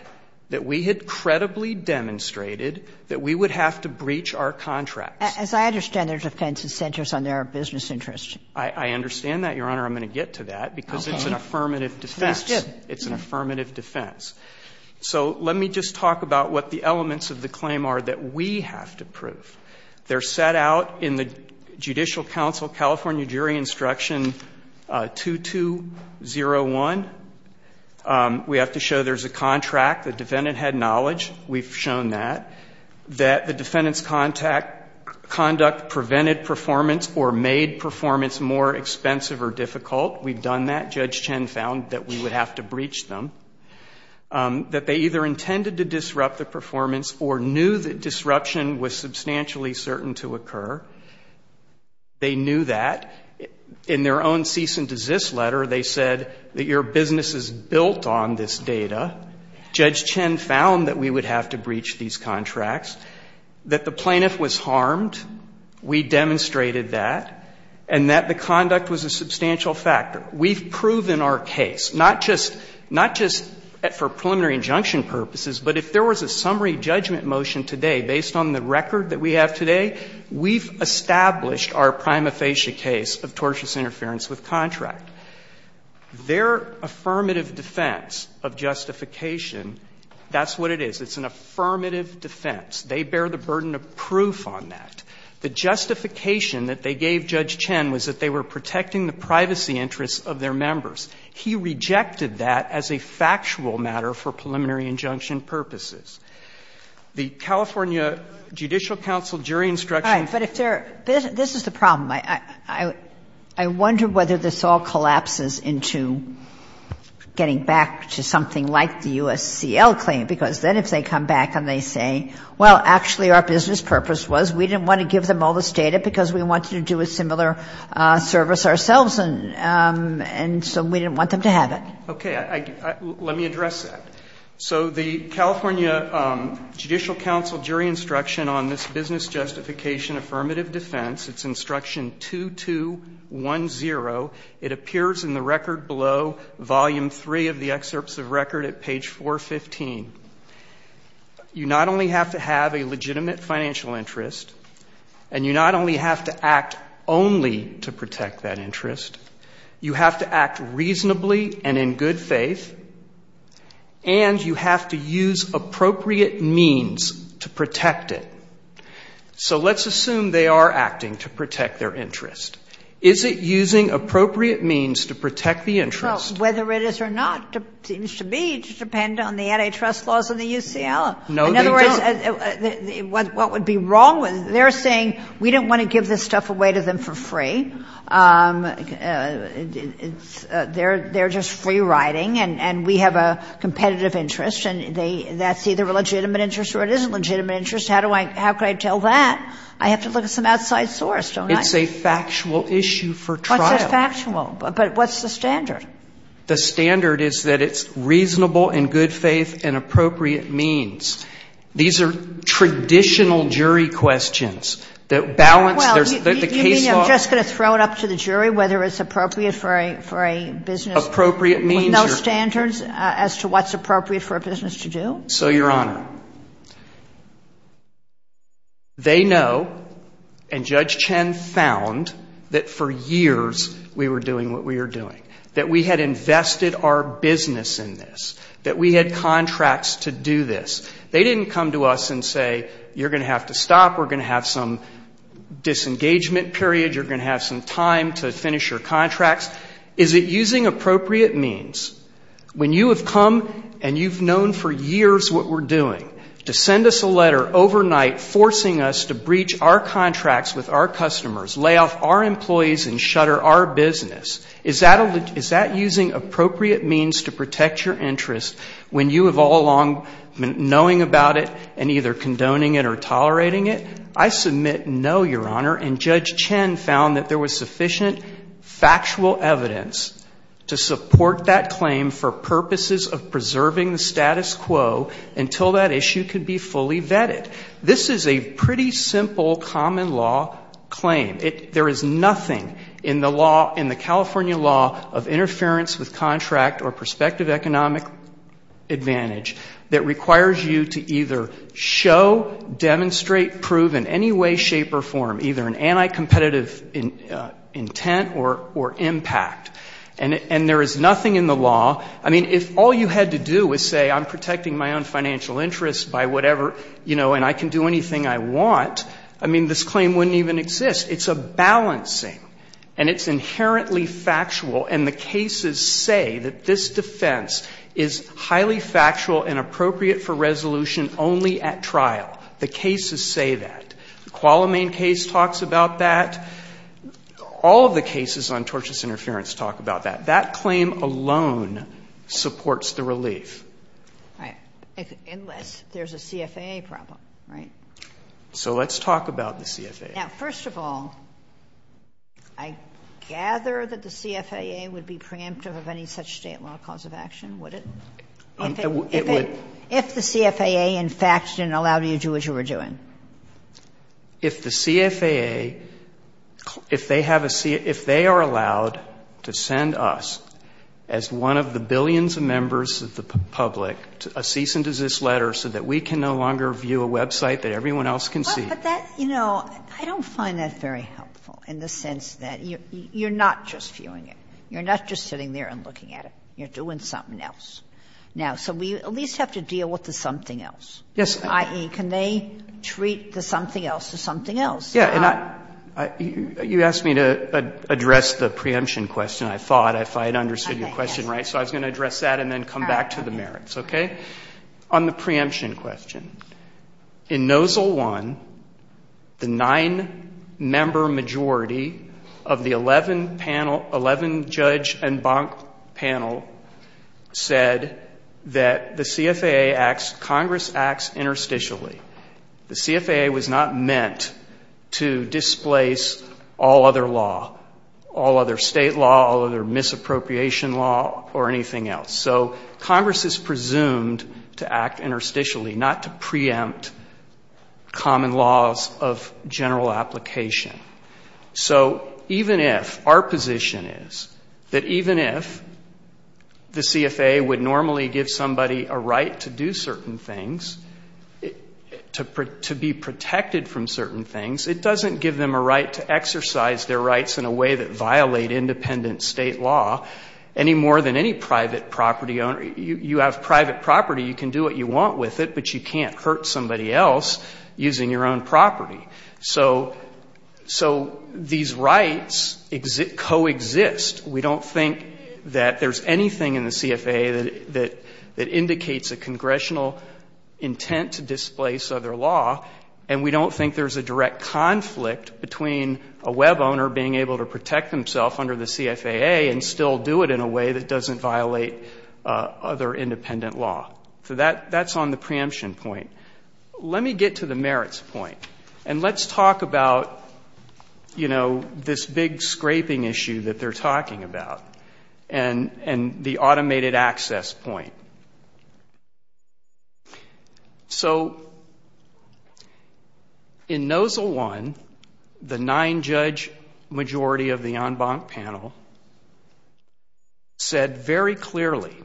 that we had credibly demonstrated that we would have to breach our contracts. As I understand it, there's a defense that centers on their business interests. I understand that, Your Honor. I'm going to get to that, because it's an affirmative defense. It's an affirmative defense. So let me just talk about what the elements of the claim are that we have to prove. They're set out in the Judicial Council California Jury Instruction 2201. We have to show there's a contract, the defendant had knowledge, we've shown that, that the defendant's conduct prevented performance or made performance more expensive or difficult. We've done that. Judge Chen found that we would have to breach them. That they either intended to disrupt the performance or knew that disruption was substantially certain to occur. They knew that. In their own cease and desist letter, they said that your business is built on this data. Judge Chen found that we would have to breach these contracts. That the plaintiff was harmed. We demonstrated that. And that the conduct was a substantial factor. We've proven our case, not just for preliminary injunction purposes, but if there was a summary judgment motion today, based on the record that we have today, we've established our prima facie case of tortious interference with contract. Their affirmative defense of justification, that's what it is. It's an affirmative defense. They bear the burden of proof on that. The justification that they gave Judge Chen was that they were protecting the privacy interests of their members. He rejected that as a factual matter for preliminary injunction purposes. The California Judicial Council Jury Instruction. Kagan. But if they're, this is the problem. I wonder whether this all collapses into getting back to something like the U.S.C.L. claim, because then if they come back and they say, well, actually our business purpose was we didn't want to give them all this data because we wanted to do a similar service ourselves, and so we didn't want them to have it. Okay. Let me address that. So the California Judicial Council Jury Instruction on this business justification affirmative defense, it's Instruction 2210, it appears in the record below, Volume 3 of the excerpts of record at page 415. You not only have to have a legitimate financial interest, and you not only have to act only to protect that interest, you have to act reasonably and in good faith, and you have to use appropriate means to protect it. So let's assume they are acting to protect their interest. Is it using appropriate means to protect the interest? Well, whether it is or not seems to be to depend on the antitrust laws of the U.C.L. No, they don't. In other words, what would be wrong with it? They're saying we didn't want to give this stuff away to them for free. They're just free-riding, and we have a competitive interest, and that's either a legitimate interest or it isn't a legitimate interest. How could I tell that? I have to look at some outside source, don't I? It's a factual issue for trial. What's factual? But what's the standard? The standard is that it's reasonable in good faith and appropriate means. These are traditional jury questions that balance the case law. Are you just going to throw it up to the jury whether it's appropriate for a business with no standards as to what's appropriate for a business to do? So, Your Honor, they know, and Judge Chen found, that for years we were doing what we were doing, that we had invested our business in this, that we had contracts to do this. They didn't come to us and say, you're going to have to stop, we're going to have some business engagement period, you're going to have some time to finish your contracts. Is it using appropriate means, when you have come and you've known for years what we're doing, to send us a letter overnight forcing us to breach our contracts with our customers, lay off our employees and shutter our business, is that using appropriate means to protect your interest when you have all along been knowing about it and either condoning it or tolerating it? I submit no, Your Honor, and Judge Chen found that there was sufficient factual evidence to support that claim for purposes of preserving the status quo until that issue could be fully vetted. This is a pretty simple common law claim. There is nothing in the California law of interference with contract or prospective economic advantage that requires you to either show, demonstrate, prove in any way, shape or form either an anti-competitive intent or impact. And there is nothing in the law, I mean, if all you had to do was say I'm protecting my own financial interests by whatever, you know, and I can do anything I want, I mean, this claim wouldn't even exist. It's a balancing. And it's inherently factual and the cases say that this defense is highly factual and appropriate for resolution only at trial. The cases say that. The Qualamine case talks about that. All of the cases on tortious interference talk about that. That claim alone supports the relief. All right. Unless there's a CFAA problem, right? So let's talk about the CFAA. Now, first of all, I gather that the CFAA would be preemptive of any such State law cause of action, would it? If the CFAA, in fact, didn't allow you to do what you were doing. If the CFAA, if they have a CFAA, if they are allowed to send us, as one of the billions of members of the public, a cease and desist letter so that we can no longer view a website that everyone else can see. But that, you know, I don't find that very helpful in the sense that you're not just viewing it. You're not just sitting there and looking at it. You're doing something else. Now, so we at least have to deal with the something else. Yes. I.e., can they treat the something else as something else? Yeah. And I, you asked me to address the preemption question, I thought, if I had understood your question right. So I was going to address that and then come back to the merits, okay? On the preemption question, in Nozzle I, the nine-member majority of the 11 panel, 11 judge and bank panel said that the CFAA acts, Congress acts interstitially. The CFAA was not meant to displace all other law, all other state law, all other misappropriation law, or anything else. So Congress is presumed to act interstitially, not to preempt common laws of general application. So even if our position is that even if the CFAA would normally give somebody a right to do certain things, to be protected from certain things, it doesn't give them a right to exercise their rights in a way that violate independent state law any more than any private property owner. You have private property, you can do what you want with it, but you can't hurt somebody else using your own property. So these rights coexist. We don't think that there's anything in the CFAA that indicates a congressional intent to displace other law, and we don't think there's a direct conflict between a web owner being able to protect himself under the CFAA and still do it in a way that doesn't violate other independent law. So that's on the preemption point. Let me get to the merits point, and let's talk about, you know, this big scraping issue that they're talking about, and the automated access point. So, in NOZLE 1, the nine-judge majority of the en banc panel said very clearly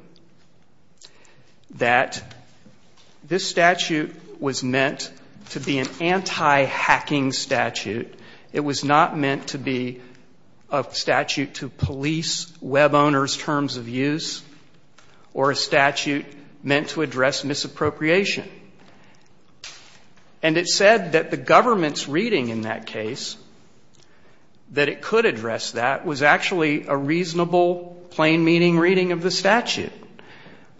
that this statute was meant to be an anti-hacking statute. It was not meant to be a statute to police web owners' terms of use or a statute meant to address misappropriation. And it said that the government's reading in that case, that it could address that, was actually a reasonable, plain-meaning reading of the statute,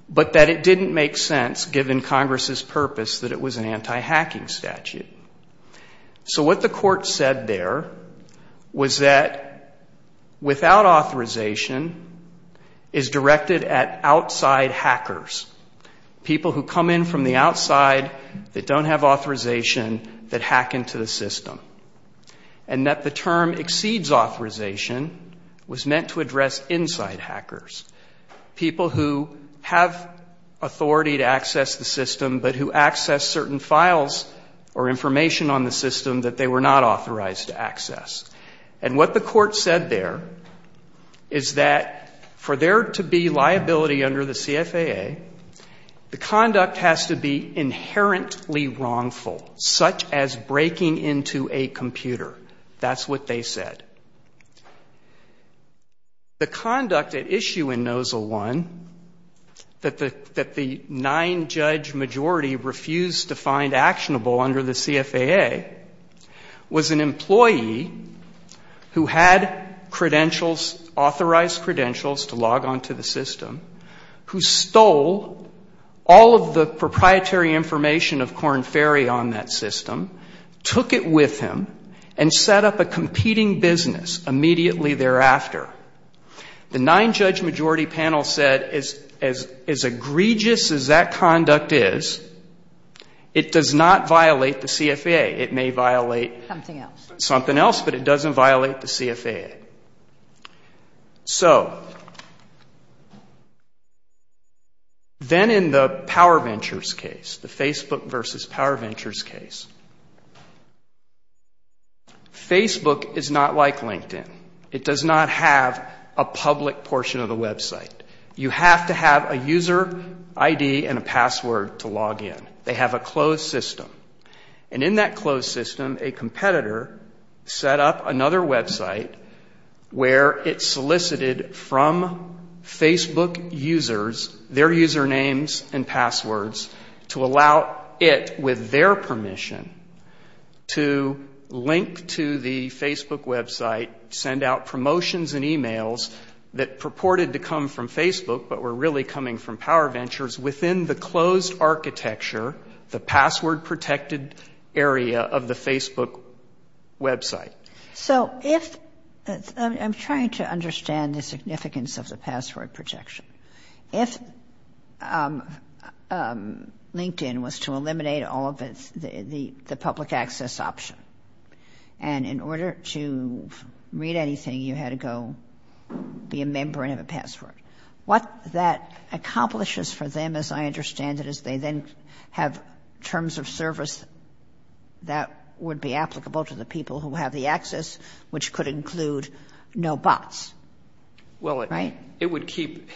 but that it didn't make sense, given Congress's purpose, that it was an anti-hacking statute. So what the court said there was that without authorization is directed at outside hackers, people who come in from the outside that don't have authorization that hack into the system, and that the term exceeds authorization was meant to address inside hackers, people who have authority to access the system, but who access certain files or information on the system that they were not authorized to access. And what the court said there is that for there to be liability under the CFAA, the conduct has to be inherently wrongful, such as breaking into a computer. That's what they said. The conduct at issue in Nozzle I that the nine-judge majority refused to find actionable under the CFAA was an employee who had credentials, authorized credentials to log onto the system, who stole all of the proprietary information of Korn Ferry on that system, took it with him, and set up a competing business immediately thereafter. The nine-judge majority panel said as egregious as that conduct is, it does not violate the CFAA. It may violate something else, but it doesn't violate the CFAA. So, then in the PowerVentures case, the Facebook versus PowerVentures case, Facebook is not like LinkedIn. It does not have a public portion of the website. You have to have a user ID and a password to log in. They have a closed system. And in that closed system, a competitor set up another website where it solicited from Facebook users their usernames and passwords to allow it, with their permission, to link to the Facebook website, send out promotions and emails that purported to come from Facebook but were really coming from PowerVentures. Within the closed architecture, the password-protected area of the Facebook website. So, if — I'm trying to understand the significance of the password protection. If LinkedIn was to eliminate all of the public access option, and in order to read anything, you had to go be a member and have a password, what that accomplishes for them, as I understand it, is they then have terms of service that would be applicable to the people who have the access, which could include no bots. Right? Well, it would keep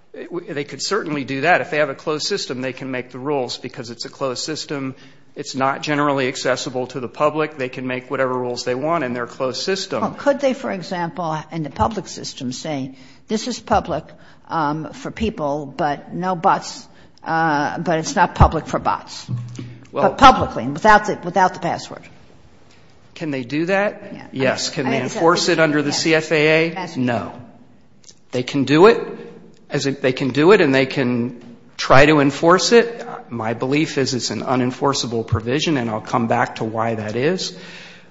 — they could certainly do that. If they have a closed system, they can make the rules, because it's a closed system. It's not generally accessible to the public. They can make whatever rules they want in their closed system. Well, could they, for example, in the public system, say, this is public for people but no bots, but it's not public for bots, but publicly, without the password? Can they do that? Yes. Can they enforce it under the CFAA? No. They can do it. They can do it, and they can try to enforce it. My belief is it's an unenforceable provision, and I'll come back to why that is.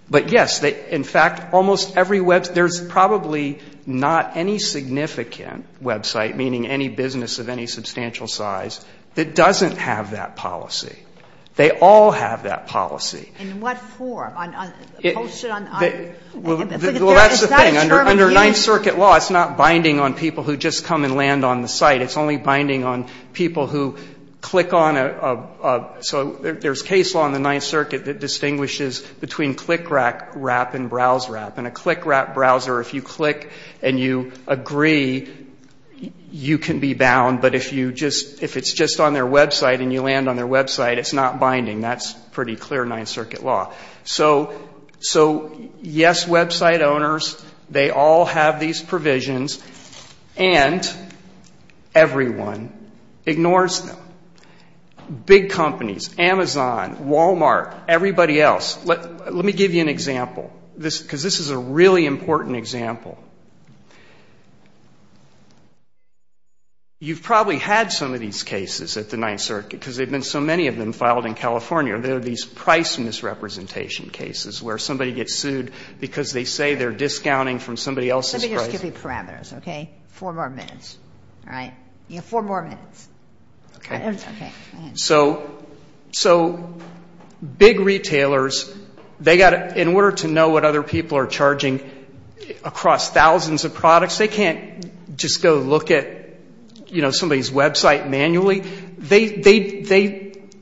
But, yes, in fact, almost every web — there's probably not any significant website, meaning any business of any substantial size, that doesn't have that policy. They all have that policy. In what form? Posted on — Well, that's the thing. Under Ninth Circuit law, it's not binding on people who just come and land on the site. It's only binding on people who click on a — so there's case law in the Ninth Circuit that distinguishes between click-wrap and browse-wrap. In a click-wrap browser, if you click and you agree, you can be bound. But if you just — if it's just on their website and you land on their website, it's not binding. That's pretty clear Ninth Circuit law. So, yes, website owners, they all have these provisions, and everyone ignores them. Big companies, Amazon, Walmart, everybody else. Let me give you an example, because this is a really important example. You've probably had some of these cases at the Ninth Circuit, because there have been so many of them filed in California. There are these price misrepresentation cases where somebody gets sued because they say they're discounting from somebody else's price. Let me just give you parameters, okay? Four more minutes, all right? You have four more minutes. Okay. So big retailers, they've got to — in order to know what other people are charging across thousands of products, they can't just go look at, you know, somebody's website manually.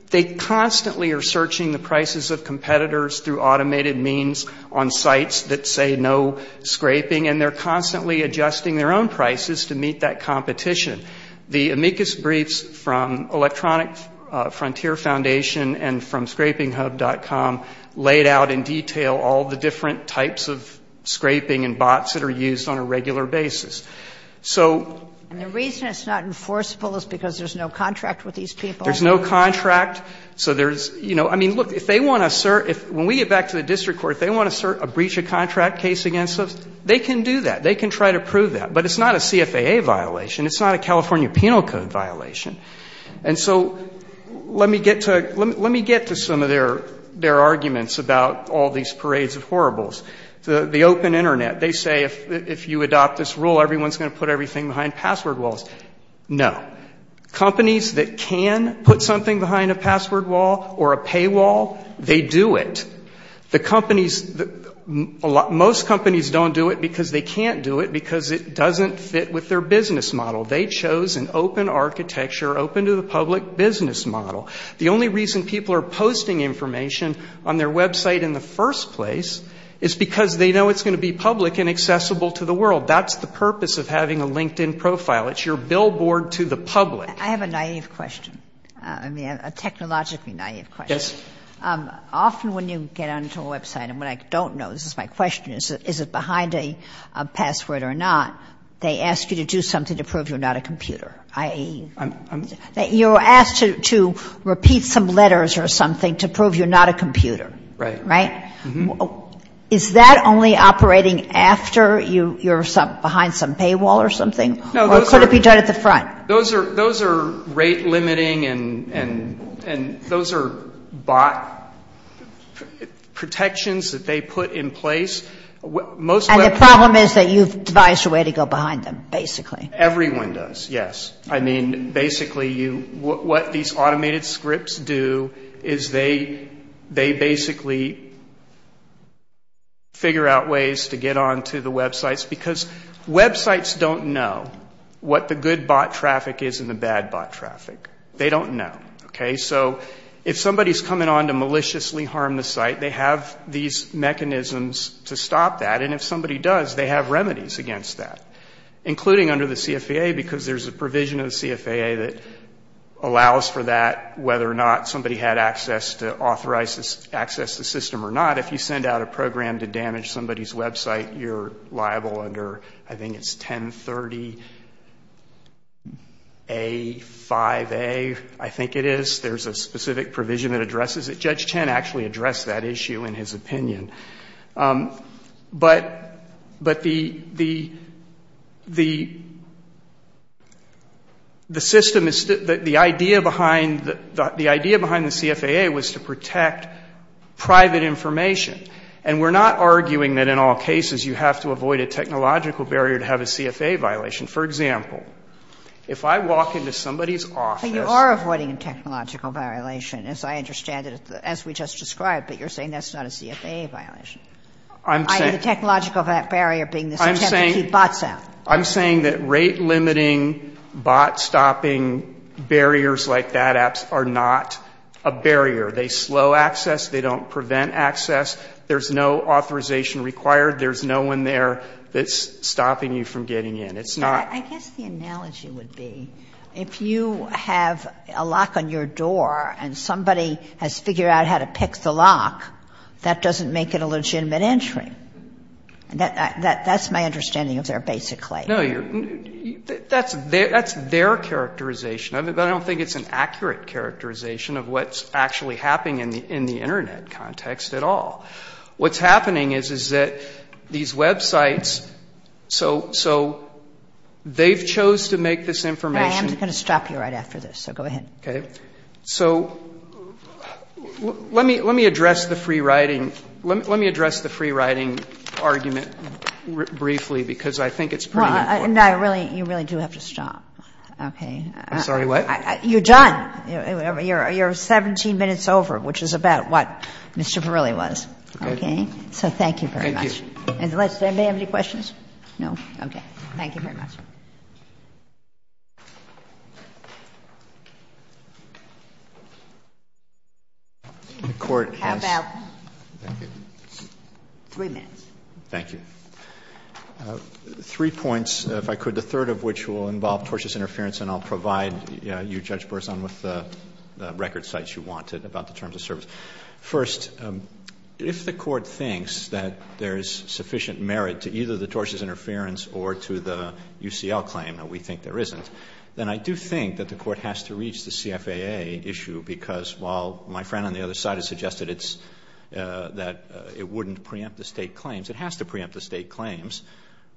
They constantly are searching the prices of competitors through automated means on sites that say no scraping, and they're constantly adjusting their own prices to meet that competition. The amicus briefs from Electronic Frontier Foundation and from scrapinghub.com laid out in detail all the different types of scraping and bots that are used on a regular basis. So — And the reason it's not enforceable is because there's no contract with these people. There's no contract. So there's — you know, I mean, look, if they want to — when we get back to the district court, if they want to breach a contract case against us, they can do that. They can try to prove that. But it's not a CFAA violation. It's not a California Penal Code violation. And so let me get to some of their arguments about all these parades of horribles. The open Internet, they say if you adopt this rule, everyone's going to put everything behind password walls. No. Companies that can put something behind a password wall or a paywall, they do it. The companies — most companies don't do it because they can't do it, because it doesn't fit with their business model. They chose an open architecture, open to the public business model. The only reason people are posting information on their website in the first place is because they know it's going to be public and accessible to the world. That's the purpose of having a LinkedIn profile. It's your billboard to the public. I have a naive question, a technologically naive question. Yes. Often when you get onto a website, and what I don't know, this is my question, is it behind a password or not, they ask you to do something to prove you're not a computer. You're asked to repeat some letters or something to prove you're not a computer. Right. Right? Is that only operating after you're behind some paywall or something? Or could it be done at the front? Those are rate limiting, and those are bot protections that they put in place. And the problem is that you've devised a way to go behind them, basically. Everyone does, yes. I mean, basically, what these automated scripts do is they basically figure out ways to get onto the websites because websites don't know what the good bot traffic is and the bad bot traffic. They don't know. Okay? So if somebody's coming on to maliciously harm the site, they have these mechanisms to stop that. And if somebody does, they have remedies against that, including under the CFAA, because there's a provision of the CFAA that allows for that, whether or not somebody had access to authorize access to the system or not. If you send out a program to damage somebody's website, you're liable under, I think it's 1030A, 5A, I think it is. There's a specific provision that addresses it. Judge Chen actually addressed that issue in his opinion. But the system is still the idea behind the CFAA was to protect private information. And we're not arguing that in all cases you have to avoid a technological barrier to have a CFAA violation. For example, if I walk into somebody's office. But you are avoiding a technological violation, as I understand it, as we just described. But you're saying that's not a CFAA violation. I'm saying. The technological barrier being the attempt to keep bots out. I'm saying that rate-limiting, bot-stopping barriers like that are not a barrier. They slow access. They don't prevent access. There's no authorization required. There's no one there that's stopping you from getting in. It's not. I guess the analogy would be if you have a lock on your door and somebody has figured out how to pick the lock, that doesn't make it a legitimate entry. That's my understanding of their basic claim. No, that's their characterization of it. But I don't think it's an accurate characterization of what's actually happening in the Internet context at all. What's happening is, is that these websites, so they've chose to make this information. I am going to stop you right after this, so go ahead. Okay. So let me address the free-writing argument briefly, because I think it's pretty important. No, you really do have to stop. Okay. I'm sorry, what? You're done. You're 17 minutes over, which is about what Mr. Parilli was. Okay. So thank you very much. Thank you. Unless they may have any questions? No? Okay. Thank you very much. The Court has three minutes. Thank you. Three points, if I could. The third of which will involve tortious interference, and I'll provide you, Judge Burson, with the record sites you wanted about the terms of service. First, if the Court thinks that there is sufficient merit to either the tortious interference or to the UCL claim that we think there isn't, then I do think that the Court has to reach the CFAA issue, because while my friend on the other side has suggested it's, that it wouldn't preempt the State claims, it has to preempt the State claims.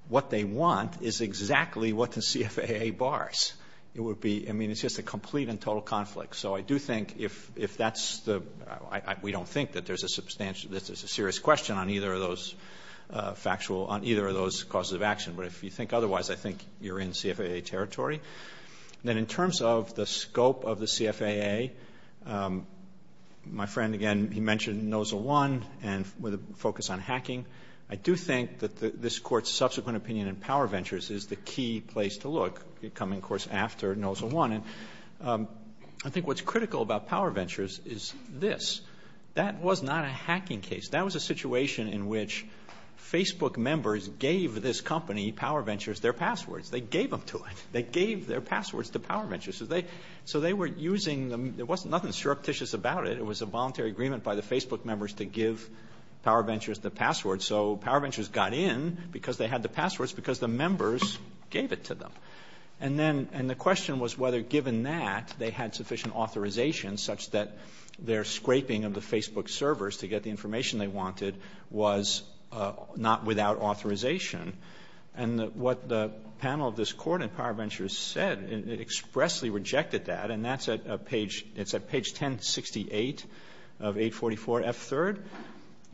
What they want is exactly what the CFAA bars. It would be, I mean, it's just a complete and total conflict. So I do think if that's the, we don't think that there's a substantial, that there's a serious question on either of those factual, on either of those causes of action. But if you think otherwise, I think you're in CFAA territory. Then in terms of the scope of the CFAA, my friend, again, he mentioned NOSA 1 and with a focus on hacking. I do think that this Court's subsequent opinion in Power Ventures is the key place to look coming, of course, after NOSA 1. And I think what's critical about Power Ventures is this. That was not a hacking case. That was a situation in which Facebook members gave this company, Power Ventures, their passwords. They gave them to it. They gave their passwords to Power Ventures. So they were using the, there was nothing surreptitious about it. It was a voluntary agreement by the Facebook members to give Power Ventures the passwords. So Power Ventures got in because they had the passwords because the members gave it to them. And the question was whether, given that, they had sufficient authorization such that their scraping of the Facebook servers to get the information they wanted was not without authorization. And what the panel of this Court in Power Ventures said, it expressly rejected that. And that's at page, it's at page 1068 of 844F3rd.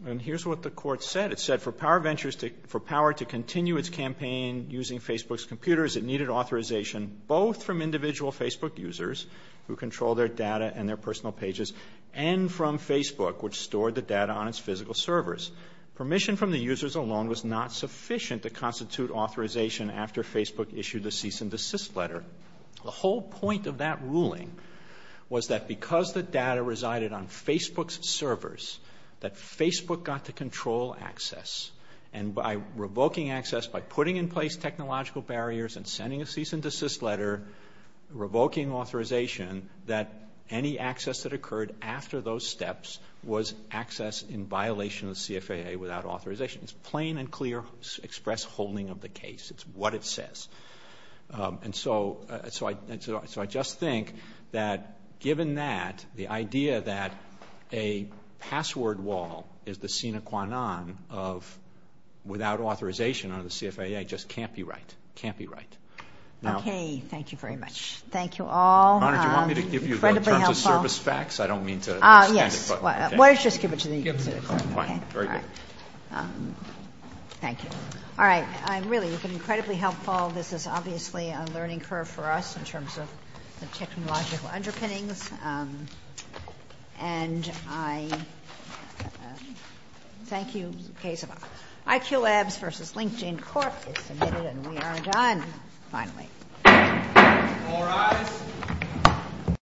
And here's what the Court said. It said, for Power Ventures to, for Power to continue its campaign using Facebook's computers, it needed authorization both from individual Facebook users who control their data and their personal pages, and from Facebook, which stored the data on its physical servers. Permission from the users alone was not sufficient to constitute authorization after Facebook issued the cease and desist letter. The whole point of that ruling was that because the data resided on Facebook's servers, that Facebook got to control access. And by revoking access, by putting in place technological barriers and sending a cease and desist letter, revoking authorization, that any access that occurred after those steps was access in violation of the CFAA without authorization. It's plain and clear express holding of the case. It's what it says. And so I just think that, given that, the idea that a password wall is the without authorization under the CFAA just can't be right. It can't be right. Okay. Thank you very much. Thank you all. Your Honor, do you want me to give you terms of service facts? I don't mean to stand in front. Yes. Why don't you just give it to me. Fine. Very good. All right. Thank you. All right. Really, you've been incredibly helpful. This is obviously a learning curve for us in terms of the technological underpinnings. And I thank you. The case of IQ Labs v. LinkedIn Court is submitted, and we are done, finally. All rise.